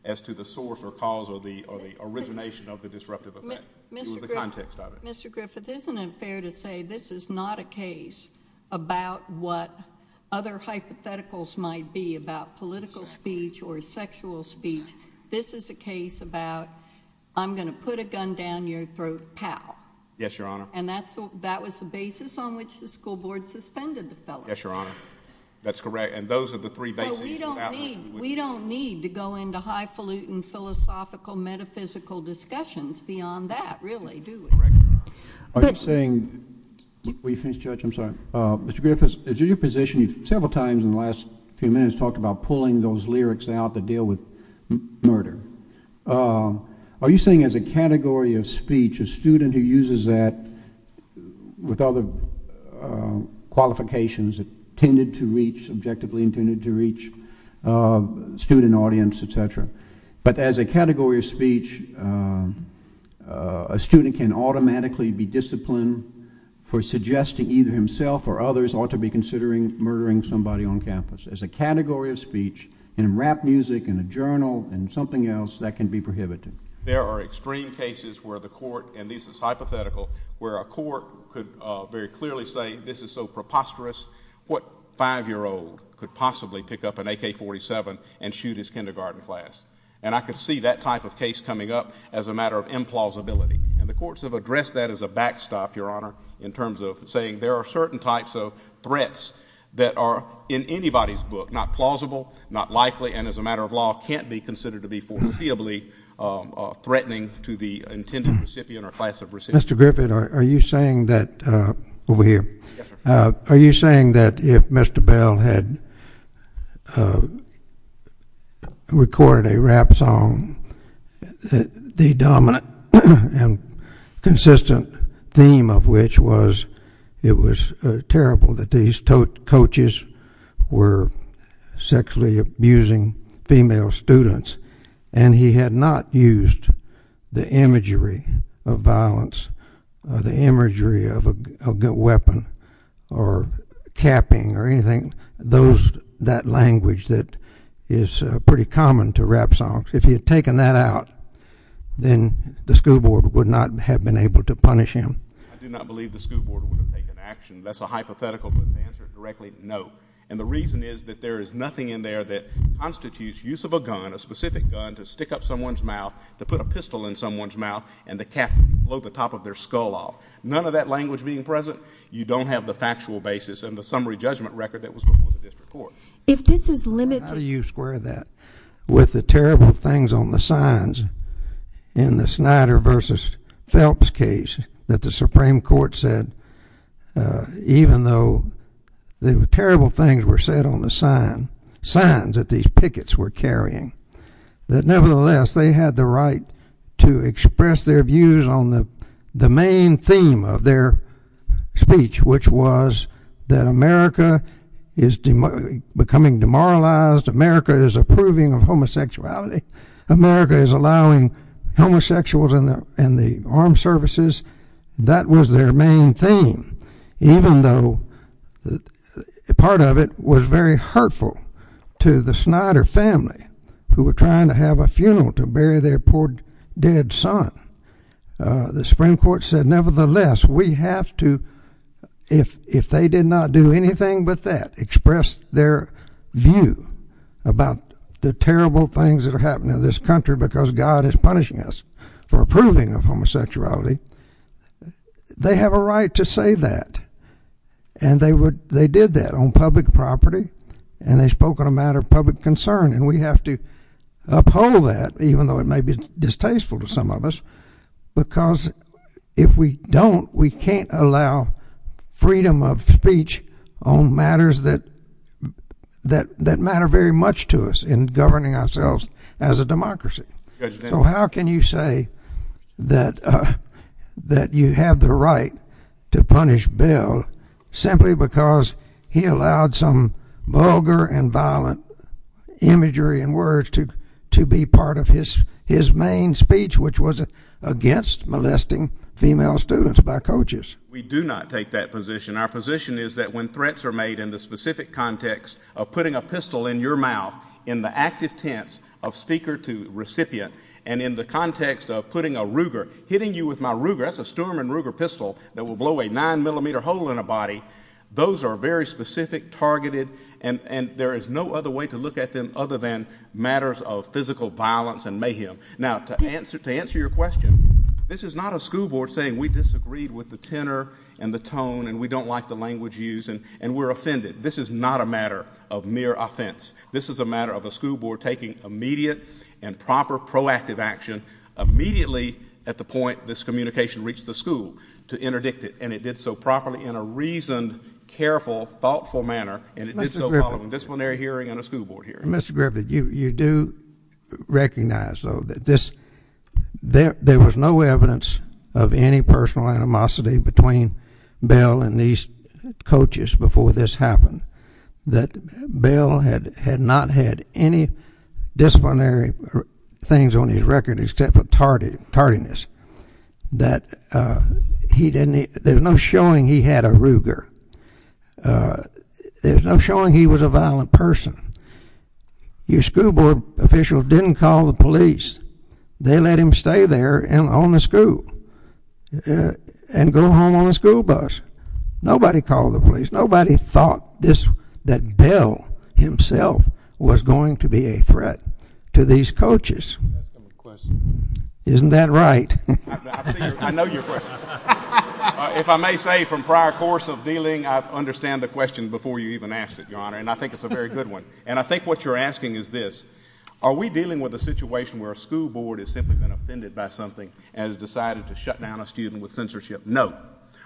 as to the source or cause or the origination of the disruptive effect. It was the context of it. Mr. Griffith, isn't it fair to say this is not a case about what other hypotheticals might be about political speech or sexual speech? This is a case about I'm going to put a gun down your throat, pal. Yes, Your Honor. And that was the basis on which the school board suspended the fellow. Yes, Your Honor. That's correct. And those are the three bases. We don't need to go into highfalutin, philosophical, metaphysical discussions beyond that, really, do we? Are you saying, will you finish, Judge? I'm sorry. Mr. Griffith, is it your position, several times in the last few minutes, you've talked about pulling those lyrics out that deal with murder. Are you saying as a category of speech, a student who uses that with other qualifications intended to reach, objectively intended to reach a student audience, et cetera, but as a category of speech, a student can automatically be disciplined for suggesting either himself or others ought to be considering murdering somebody on campus? As a category of speech, in rap music, in a journal, in something else, that can be prohibited? There are extreme cases where the court, and this is hypothetical, where a court could very clearly say this is so preposterous, what five-year-old could possibly pick up an AK-47 and shoot his kindergarten class? And I could see that type of case coming up as a matter of implausibility. And the courts have addressed that as a backstop, Your Honor, in terms of saying there are certain types of threats that are in anybody's book, not plausible, not likely, and as a matter of law can't be considered to be foreseeably threatening to the intended recipient or class of recipient. Mr. Griffith, are you saying that if Mr. Bell had recorded a rap song, the dominant and consistent theme of which was it was terrible that these coaches were sexually abusing female students and he had not used the imagery of violence, the imagery of a good weapon or capping or anything, that language that is pretty common to rap songs, if he had taken that out, then the school board would not have been able to punish him? I do not believe the school board would have taken action. That's a hypothetical, but to answer it directly, no. And the reason is that there is nothing in there that constitutes use of a gun, a specific gun to stick up someone's mouth, to put a pistol in someone's mouth, and to blow the top of their skull off. None of that language being present, you don't have the factual basis and the summary judgment record that was before the district court. How do you square that with the terrible things on the signs in the Snyder versus Phelps case that the Supreme Court said, even though the terrible things were said on the signs, signs that these pickets were carrying, that nevertheless they had the right to express their views on the main theme of their speech, which was that America is becoming demoralized, America is approving of homosexuality, America is allowing homosexuals in the armed services. That was their main theme, even though part of it was very hurtful to the Snyder family who were trying to have a funeral to bury their poor dead son. The Supreme Court said, nevertheless, we have to, if they did not do anything but that, express their view about the terrible things that are happening in this country because God is punishing us for approving of homosexuality, they have a right to say that. And they did that on public property, and they spoke on a matter of public concern, and we have to uphold that, even though it may be distasteful to some of us, because if we don't, we can't allow freedom of speech on matters that matter very much to us in governing ourselves as a democracy. So how can you say that you have the right to punish Bill simply because he allowed some vulgar and violent imagery and words to be part of his main speech, which was against molesting female students by coaches? We do not take that position. Our position is that when threats are made in the specific context of putting a pistol in your mouth in the active tense of speaker to recipient and in the context of putting a Ruger, hitting you with my Ruger, that's a Sturman Ruger pistol, that will blow a 9mm hole in a body, those are very specific, targeted, and there is no other way to look at them other than matters of physical violence and mayhem. Now, to answer your question, this is not a school board saying, we disagreed with the tenor and the tone and we don't like the language used and we're offended. This is not a matter of mere offense. This is a matter of a school board taking immediate and proper proactive action immediately at the point this communication reached the school to interdict it, and it did so properly in a reasoned, careful, thoughtful manner, and it did so in a disciplinary hearing and a school board hearing. Mr. Griffith, you do recognize, though, that there was no evidence of any personal animosity between Bill and these coaches before this happened, that Bill had not had any disciplinary things on his record except for tardiness, that there's no showing he had a Ruger. There's no showing he was a violent person. Your school board official didn't call the police. They let him stay there on the school and go home on the school bus. Nobody called the police. Nobody thought that Bill himself was going to be a threat to these coaches. Isn't that right? I know your question. If I may say, from prior course of dealing, I understand the question before you even asked it, Your Honor, and I think it's a very good one, and I think what you're asking is this. Are we dealing with a situation where a school board has simply been offended by something and has decided to shut down a student with censorship? No.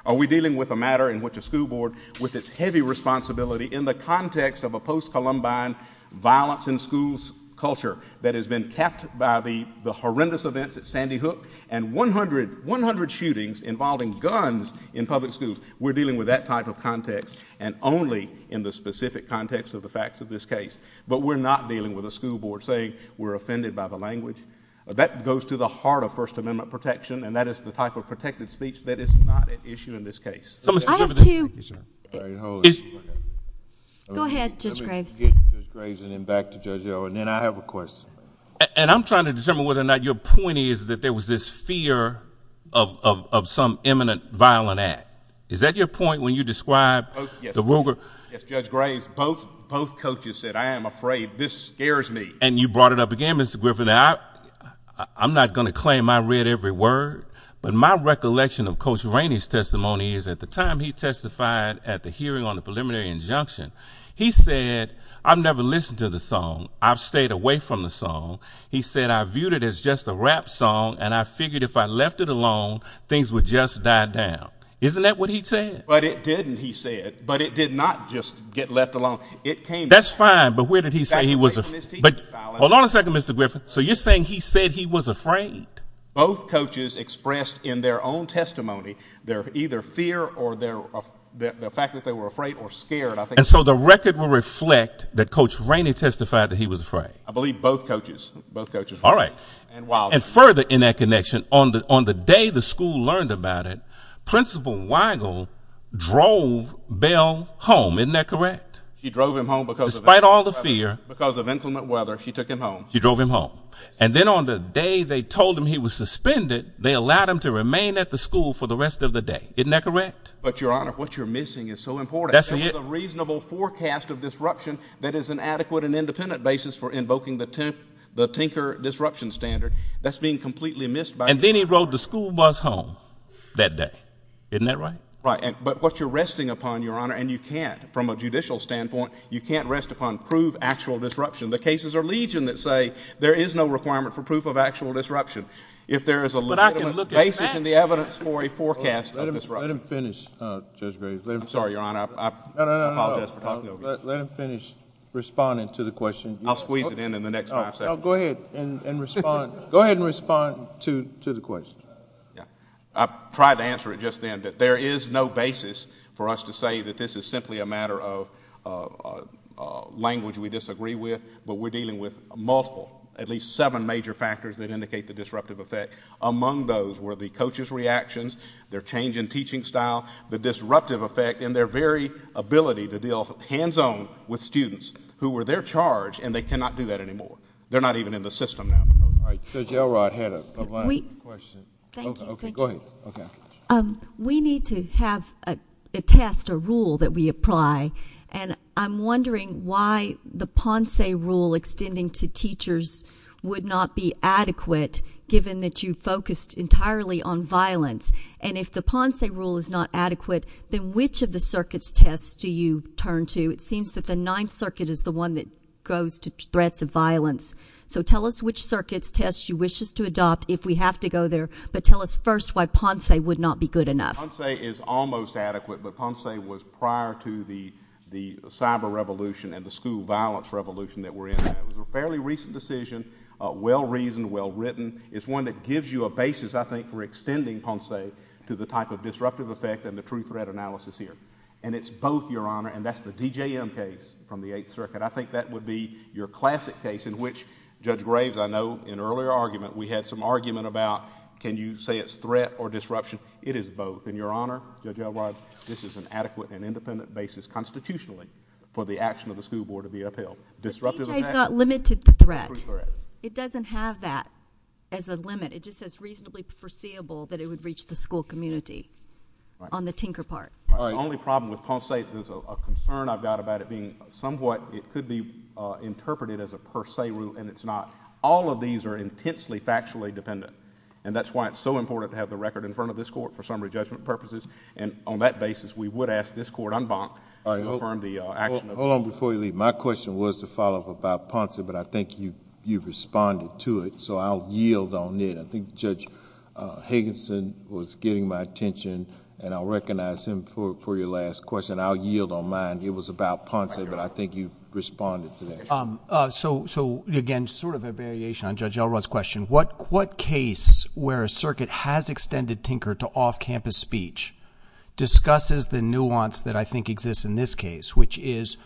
Are we dealing with a matter in which a school board, with its heavy responsibility, in the context of a post-Columbine violence in schools culture that has been capped by the horrendous events at Sandy Hook and 100 shootings involving guns in public schools, we're dealing with that type of context and only in the specific context of the facts of this case, but we're not dealing with a school board saying we're offended by the language? That goes to the heart of First Amendment protection, and that is the type of protected speech that is not at issue in this case. I have to... Go ahead, Judge Graves. Let me get Judge Graves and then back to Judge O, and then I have a question. And I'm trying to determine whether or not your point is that there was this fear of some imminent violent act. Is that your point when you describe the Ruger... Yes, Judge Graves. Both coaches said, I am afraid. This scares me. And you brought it up again, Mr. Griffin. I'm not going to claim I read every word, but my recollection of Coach Rainey's testimony is at the time he testified at the hearing on the preliminary injunction, he said, I've never listened to the song. I've stayed away from the song. He said, I viewed it as just a rap song, and I figured if I left it alone, things would just die down. Isn't that what he said? But it didn't, he said. But it did not just get left alone. It came... That's fine, but where did he say he was afraid? Hold on a second, Mr. Griffin. So you're saying he said he was afraid? Both coaches expressed in their own testimony their either fear or the fact that they were afraid or scared. And so the record will reflect that Coach Rainey testified that he was afraid? I believe both coaches, both coaches. All right. And further in that connection, on the day the school learned about it, Principal Weigel drove Bell home. Isn't that correct? She drove him home because of... Despite all the fear. Because of inclement weather, she took him home. She drove him home. And then on the day they told him he was suspended, they allowed him to remain at the school for the rest of the day. Isn't that correct? But, Your Honor, what you're missing is so important. That's the... There was a reasonable forecast of disruption that is an adequate and independent basis for invoking the Tinker Disruption Standard. That's being completely missed by... And then he rode the school bus home that day. Isn't that right? Right. But what you're resting upon, Your Honor, and you can't from a judicial standpoint, you can't rest upon proof of actual disruption. The cases are legion that say there is no requirement for proof of actual disruption if there is a legitimate basis in the evidence for a forecast of disruption. Let him finish, Judge Berry. I'm sorry, Your Honor. I apologize for talking over you. Let him finish responding to the question. I'll squeeze it in in the next five seconds. Go ahead and respond. Respond to the question. I tried to answer it just then, but there is no basis for us to say that this is simply a matter of language we disagree with, but we're dealing with multiple, at least seven major factors that indicate the disruptive effect. Among those were the coach's reactions, their change in teaching style, the disruptive effect, and their very ability to deal hands-on with students who were their charge and they cannot do that anymore. They're not even in the system now. All right. Judge Elrod had a final question. Thank you. Go ahead. We need to have a test, a rule, that we apply, and I'm wondering why the Ponce rule extending to teachers would not be adequate given that you focused entirely on violence. And if the Ponce rule is not adequate, then which of the circuits' tests do you turn to? It seems that the Ninth Circuit is the one that goes to threats of violence. So tell us which circuits' tests you wish us to adopt if we have to go there, but tell us first why Ponce would not be good enough. Ponce is almost adequate, but Ponce was prior to the cyber revolution and the school violence revolution that we're in now. It was a fairly recent decision, well-reasoned, well-written. It's one that gives you a basis, I think, for extending Ponce to the type of disruptive effect and the true threat analysis here. And it's both, Your Honor, and that's the DJM case from the Eighth Circuit. I think that would be your classic case in which, Judge Graves, I know in an earlier argument we had some argument about can you say it's threat or disruption. It is both. And, Your Honor, Judge Elwod, this is an adequate and independent basis constitutionally for the action of the School Board of the FL. Disruptive effect? The DJ has not limited the threat. It doesn't have that as a limit. It just says reasonably foreseeable that it would reach the school community on the Tinker Park. The only problem with Ponce 8 is a concern I've got about it and somewhat it could be interpreted as a per se rule, and it's not. All of these are intensely factually dependent, and that's why it's so important to have the record in front of this Court for summary judgment purposes. And on that basis, we would ask this Court unbonk to confirm the action of Ponce. Hold on before you leave. My question was to follow up about Ponce, but I think you've responded to it, so I'll yield on it. I think Judge Higginson was getting my attention, and I'll recognize him for your last question. I'll yield on mine. It was about Ponce, but I think you've responded to that. So, again, sort of a variation on Judge Elrod's question, what case where a circuit has extended Tinker to off-campus speech discusses the nuance that I think exists in this case, which is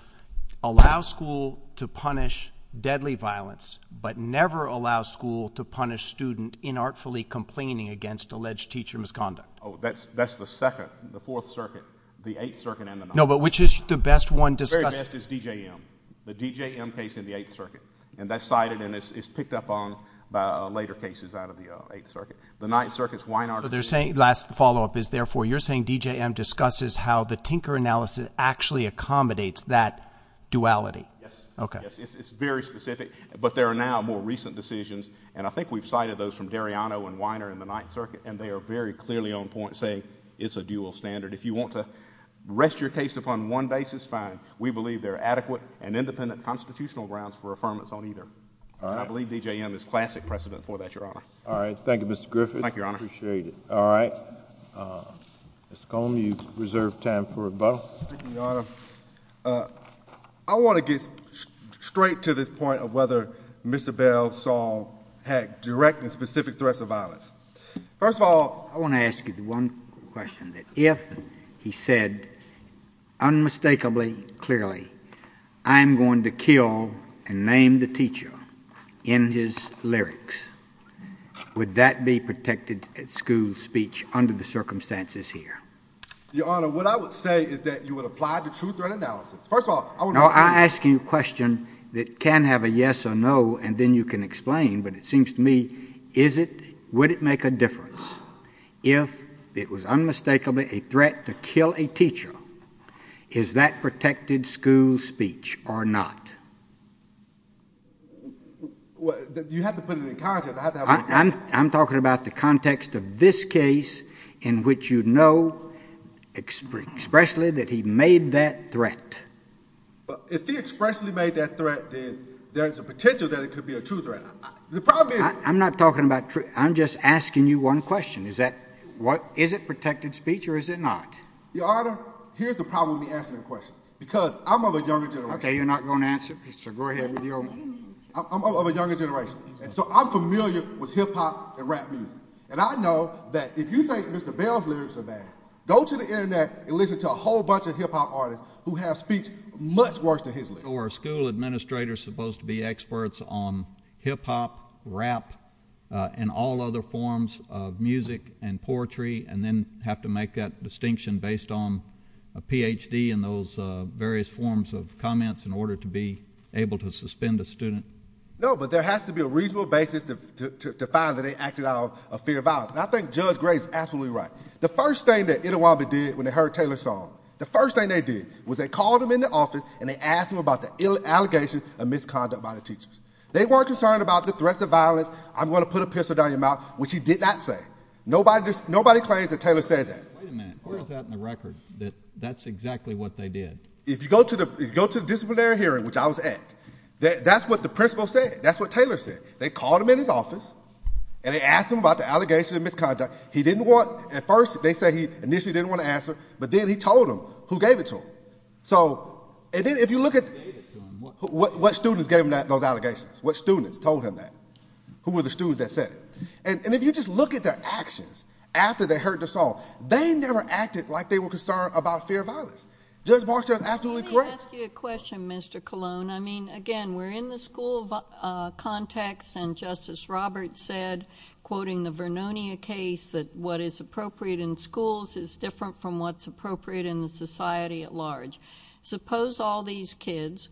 allow school to punish deadly violence but never allow school to punish student inartfully complaining against alleged teacher misconduct? Oh, that's the second, the Fourth Circuit, the Eighth Circuit, and the Ninth. No, but which is the best one discussed? The very best is D.J.M., the D.J.M. case in the Eighth Circuit. And that's cited, and it's picked up on by later cases out of the Eighth Circuit. The Ninth Circuit's Weiner. So they're saying, last follow-up is, therefore, you're saying D.J.M. discusses how the Tinker analysis actually accommodates that duality? Yes. Okay. It's very specific, but there are now more recent decisions, and I think we've cited those from Dariano and Weiner in the Ninth Circuit, and they are very clearly on point saying it's a dual standard. If you want to rest your case upon one basis, fine. We believe there are adequate and independent constitutional grounds for affirmance on either. All right. I believe D.J.M. is classic precedent for that, Your Honor. All right. Thank you, Mr. Griffith. Thank you, Your Honor. Appreciate it. All right. Mr. Cone, you reserve time for rebuttal. Thank you, Your Honor. I want to get straight to this point of whether Mr. Bell saw direct and specific threats of violence. First of all, I want to ask you one question, that if he said unmistakably, clearly, I'm going to kill and name the teacher in his lyrics, would that be protected at school speech under the circumstances here? Your Honor, what I would say is that you would apply the truth or analysis. First of all, I would not. No, I ask you a question that can have a yes or no, and then you can explain, but it seems to me, would it make a difference if it was unmistakably a threat to kill a teacher? Is that protected school speech or not? You have to put it in context. I'm talking about the context of this case in which you know expressly that he made that threat. If he expressly made that threat, then there's a potential that it could be a true threat. I'm not talking about truth. I'm just asking you one question. Is it protected speech or is it not? Your Honor, here's the problem when you ask me the question, because I'm of a younger generation. Okay, you're not going to answer? Sir, go ahead. I'm of a younger generation, and so I'm familiar with hip-hop and rap music, and I know that if you think Mr. Bell's lyrics are bad, go to the Internet and listen to a whole bunch of hip-hop artists who have speech much worse than his lyrics. So are school administrators supposed to be experts on hip-hop, rap, and all other forms of music and poetry and then have to make that distinction based on a Ph.D. and those various forms of comments in order to be able to suspend a student? No, but there has to be a reasonable basis to find that they acted out of fear of violence. And I think Judge Gray is absolutely right. The first thing that Interwobble did when they heard Taylor's song, the first thing they did was they called him in the office and they asked him about the allegations of misconduct by the teachers. They weren't concerned about the threat of violence, I'm going to put a pistol down your mouth, which he did not say. Nobody claims that Taylor said that. Wait a minute. Where is that in the record, that that's exactly what they did? If you go to the disciplinary hearing, which I was at, that's what the principal said. That's what Taylor said. They called him in his office, and they asked him about the allegations of misconduct. He didn't want, at first they said he initially didn't want to answer, but then he told them who gave it to him. So if you look at what students gave him those allegations, what students told him that, who were the students that said it. And if you just look at their actions after they heard the song, they never acted like they were concerned about fear of violence. Judge Barstow is absolutely correct. Let me ask you a question, Mr. Colon. I mean, again, we're in the school context, and Justice Roberts said, quoting the Vernonia case, that what is appropriate in schools is different from what's appropriate in society at large. Suppose all these kids,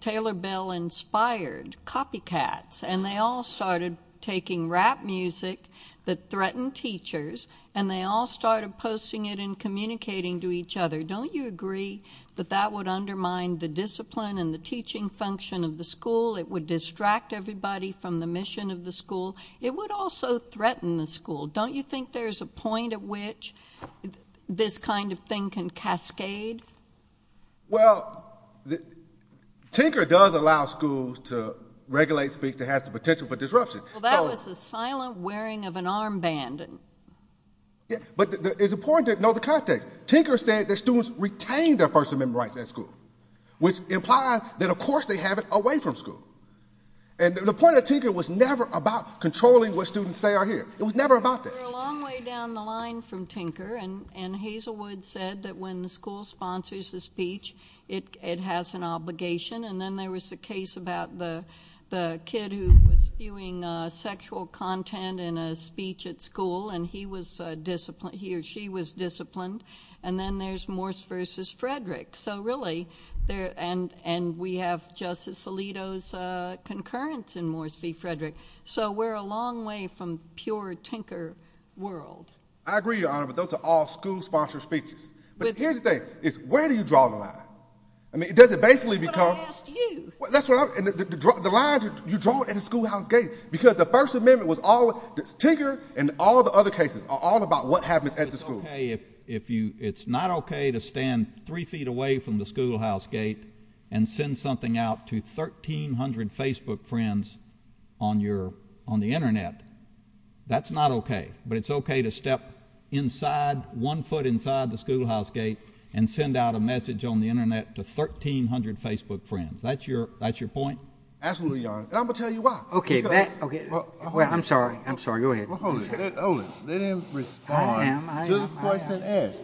Taylor Bell inspired copycats, and they all started taking rap music that threatened teachers, and they all started posting it and communicating to each other. Don't you agree that that would undermine the discipline and the teaching function of the school? It would distract everybody from the mission of the school. It would also threaten the school. Don't you think there's a point at which this kind of thing can cascade? Well, Tinker does allow schools to regulate speech that has the potential for disruption. Well, that was the silent wearing of an armband. But it's important to know the context. Tinker said that students retained their personal memory rights at school, which implies that, of course, they have it away from school. And the point of Tinker was never about controlling what students say or hear. It was never about that. We're a long way down the line from Tinker, and Hazelwood said that when the school sponsors a speech, it has an obligation. And then there was a case about the kid who was spewing sexual content in a speech at school, and he or she was disciplined. And then there's Morse v. Frederick. And we have Justice Alito's concurrence in Morse v. Frederick. So we're a long way from pure Tinker world. I agree, Your Honor, but those are all school-sponsored speeches. But here's the thing. It's where do you draw the line? I mean, does it basically become the line you draw at a schoolhouse gate? Because the First Amendment was always Tinker and all the other cases are all about what happens at the school. It's not okay to stand three feet away from the schoolhouse gate and send something out to 1,300 Facebook friends on the Internet. That's not okay. But it's okay to step inside, one foot inside the schoolhouse gate, and send out a message on the Internet to 1,300 Facebook friends. That's your point? Absolutely, Your Honor. And I'm going to tell you why. Okay. I'm sorry. I'm sorry. Go ahead. Let him respond.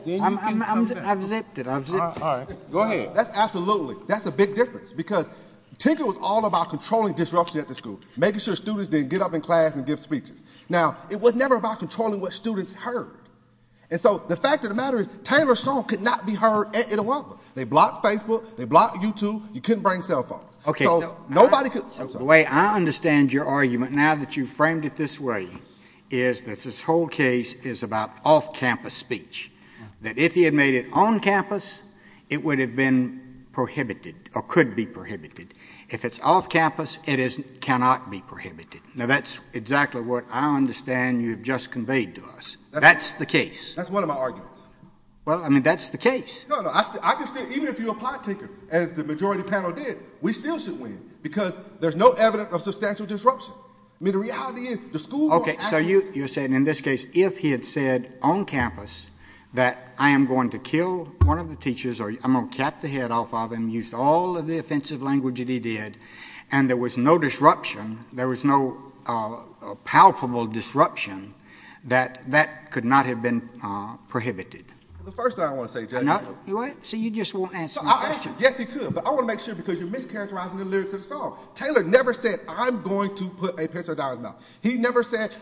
I'm exempted. Go ahead. Absolutely, that's a big difference because Tinker was all about controlling disruption at the school, making sure students didn't get up in class and give speeches. Now, it was never about controlling what students heard. And so the fact of the matter is Taylor Stone could not be heard at all. They blocked Facebook. They blocked YouTube. You couldn't bring cell phones. Okay. Nobody could. The way I understand your argument, now that you framed it this way, is that this whole case is about off-campus speech, that if he had made it on-campus, it would have been prohibited or could be prohibited. If it's off-campus, it cannot be prohibited. Now, that's exactly what I understand you've just conveyed to us. That's the case. That's one of my arguments. Well, I mean, that's the case. No, no. I can say even if you apply, Tinker, as the majority panel did, we still should win because there's no evidence of substantial disruption. I mean, the reality is the school board has to win. Okay. So you're saying in this case if he had said on-campus that I am going to kill one of the teachers or I'm going to cap the head off of him and use all of the offensive language that he did, and there was no disruption, there was no palpable disruption, that that could not have been prohibited. The first thing I want to say, Judge, I want to make sure because you're mischaracterizing the lyrics of the song. Taylor never said I'm going to put a pencil down his mouth. He never said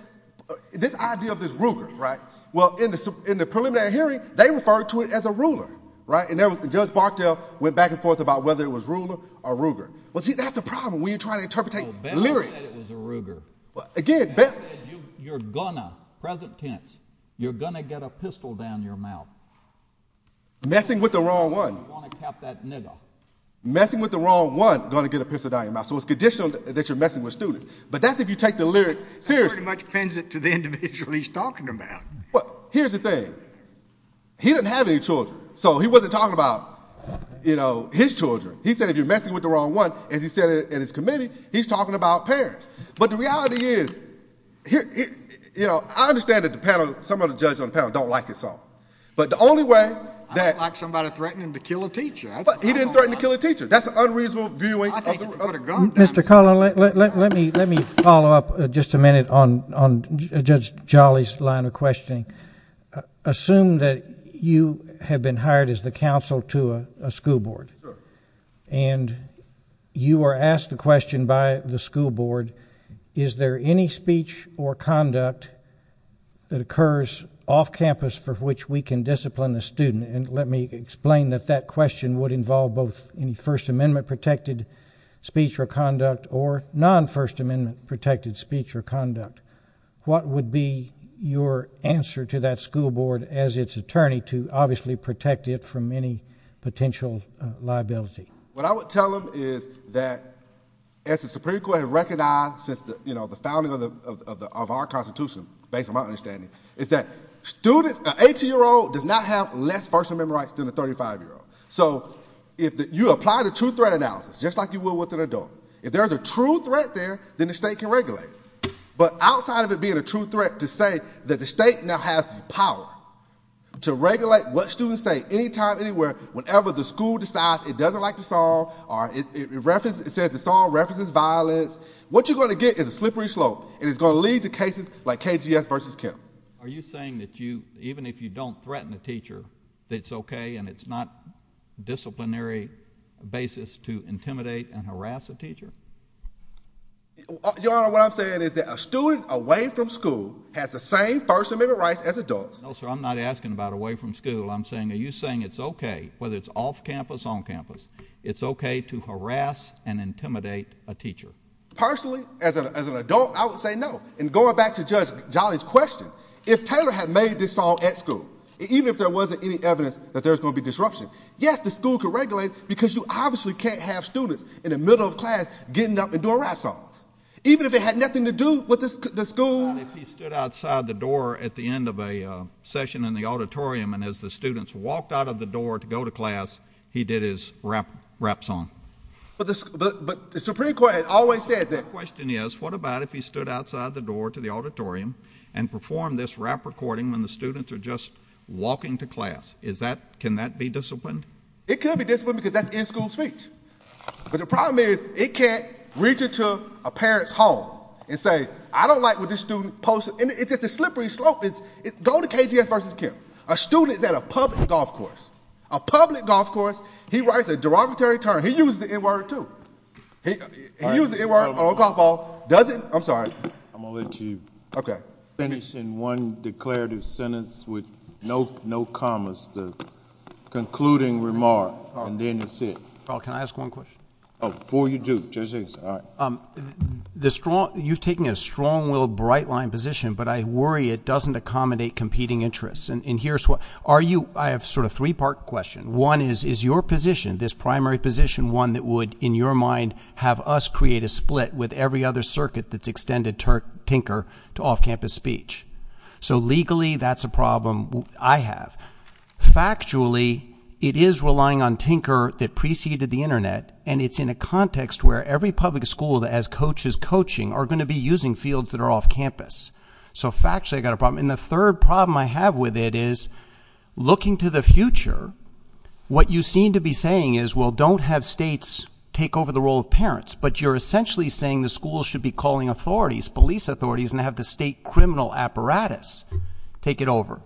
this idea of this rougar, right? Well, in the preliminary hearing, they referred to it as a rougar, right? And Judge Bartel went back and forth about whether it was rougar or rougar. Well, see, that's the problem. When you're trying to interpretate lyrics. Again, better. You're going to, present tense, you're going to get a pistol down your mouth. Messing with the wrong one. Messing with the wrong one is going to get a pistol down your mouth. So it's conditional that you're messing with students. But that's if you take the lyrics seriously. That pretty much extends it to the individual he's talking about. Well, here's the thing. He doesn't have any children, so he wasn't talking about, you know, his children. He said if you're messing with the wrong one, and he said it in his committee, he's talking about parents. But the reality is, you know, I understand that the panel, some of the judges on the panel don't like this song. But the only way that. I thought somebody threatened to kill a teacher. He didn't threaten to kill a teacher. That's an unreasonable view. Mr. Cullen, let me follow up just a minute on Judge Jolly's line of questioning. Assume that you have been hired as the counsel to a school board. Sure. And you are asked a question by the school board, is there any speech or conduct that occurs off campus for which we can discipline the student? And let me explain that that question would involve both in First Amendment-protected speech or conduct or non-First Amendment-protected speech or conduct. What would be your answer to that school board as its attorney to obviously protect it from any potential liability? What I would tell them is that, as the Supreme Court has recognized since, you know, the founding of our Constitution, based on my understanding, is that a 18-year-old does not have less First Amendment rights than a 35-year-old. So if you apply the true threat analysis, just like you would with an adult, if there's a true threat there, then the state can regulate it. But outside of it being a true threat to say that the state now has the power to regulate what students say anytime, anywhere, whenever the school decides it doesn't like the song or it says the song references violence, what you're going to get is a slippery slope. And it's going to lead to cases like KGS v. Kim. Are you saying that you, even if you don't threaten a teacher, that it's okay and it's not a disciplinary basis to intimidate and harass a teacher? Your Honor, what I'm saying is that a student away from school has the same First Amendment rights as it does. No, sir, I'm not asking about away from school. I'm saying are you saying it's okay, whether it's off campus, on campus, it's okay to harass and intimidate a teacher? Personally, as an adult, I would say no. And going back to Judge Jolly's question, if Taylor had made this song at school, even if there wasn't any evidence that there was going to be disruption, yes, the school could regulate it because you obviously can't have students in the middle of class getting up and doing rap songs. Even if it had nothing to do with the school. He stood outside the door at the end of a session in the auditorium, and as the students walked out of the door to go to class, he did his rap song. But the Supreme Court has always said that. The question is, what about if he stood outside the door to the auditorium and performed this rap recording when the students are just walking to class? Can that be disciplined? It can be disciplined because that's in-school speech. But the problem is it can't reach into a parent's home and say, I don't like what this student posted. It's just a slippery slope. Go to KDS versus Kemp. A student at a public golf course, a public golf course, he writes a derogatory term. He used the N-word, too. He used the N-word on a public golf course. I'm sorry. I'm going to let you finish in one declarative sentence with no commas, the concluding remark, and then that's it. Can I ask one question? Before you do. You're taking a strong-willed, bright-lined position, but I worry it doesn't accommodate competing interests. I have a sort of three-part question. One is your position, this primary position, one that would, in your mind, have us create a split with every other circuit that's extended Tinker to off-campus speech. So, legally, that's a problem I have. Factually, it is relying on Tinker that preceded the Internet, and it's in a context where every public school that has coaches coaching are going to be using fields that are off-campus. So, factually, I've got a problem. And the third problem I have with it is, looking to the future, what you seem to be saying is, well, don't have states take over the role of parents, but you're essentially saying the schools should be calling authorities, police authorities, and have the state criminal apparatus take it over.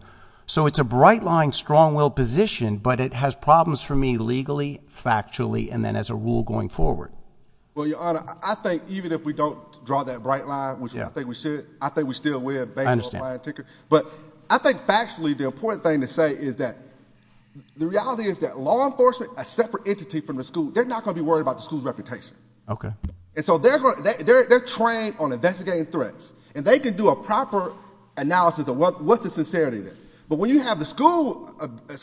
So it's a bright-lined, strong-willed position, but it has problems for me legally, factually, and then as a rule going forward. Well, Your Honor, I think even if we don't draw that bright line, which I think we should, I think we still win. I understand. But I think factually the important thing to say is that the reality is that law enforcement, a separate entity from the school, they're not going to be worried about the school's reputation. Okay. And so they're trained on investigating threats, and they can do a proper analysis of what the sincerity is. But when you have a school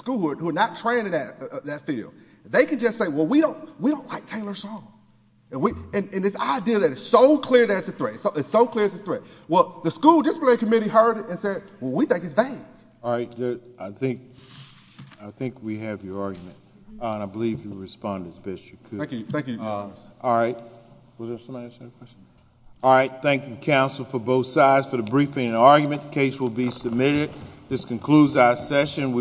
who are not trained in that field, they can just say, well, we don't like Taylor Song. And this idea that it's so clear that it's a threat, it's so clear it's a threat. Well, the school disciplinary committee heard it and said, well, we think it's bad. All right. I think we have your argument. Your Honor, I believe you responded best you could. Thank you. Thank you. All right. All right. Thank you, counsel, for both sides for the briefing and argument. The case will be submitted. This concludes our session.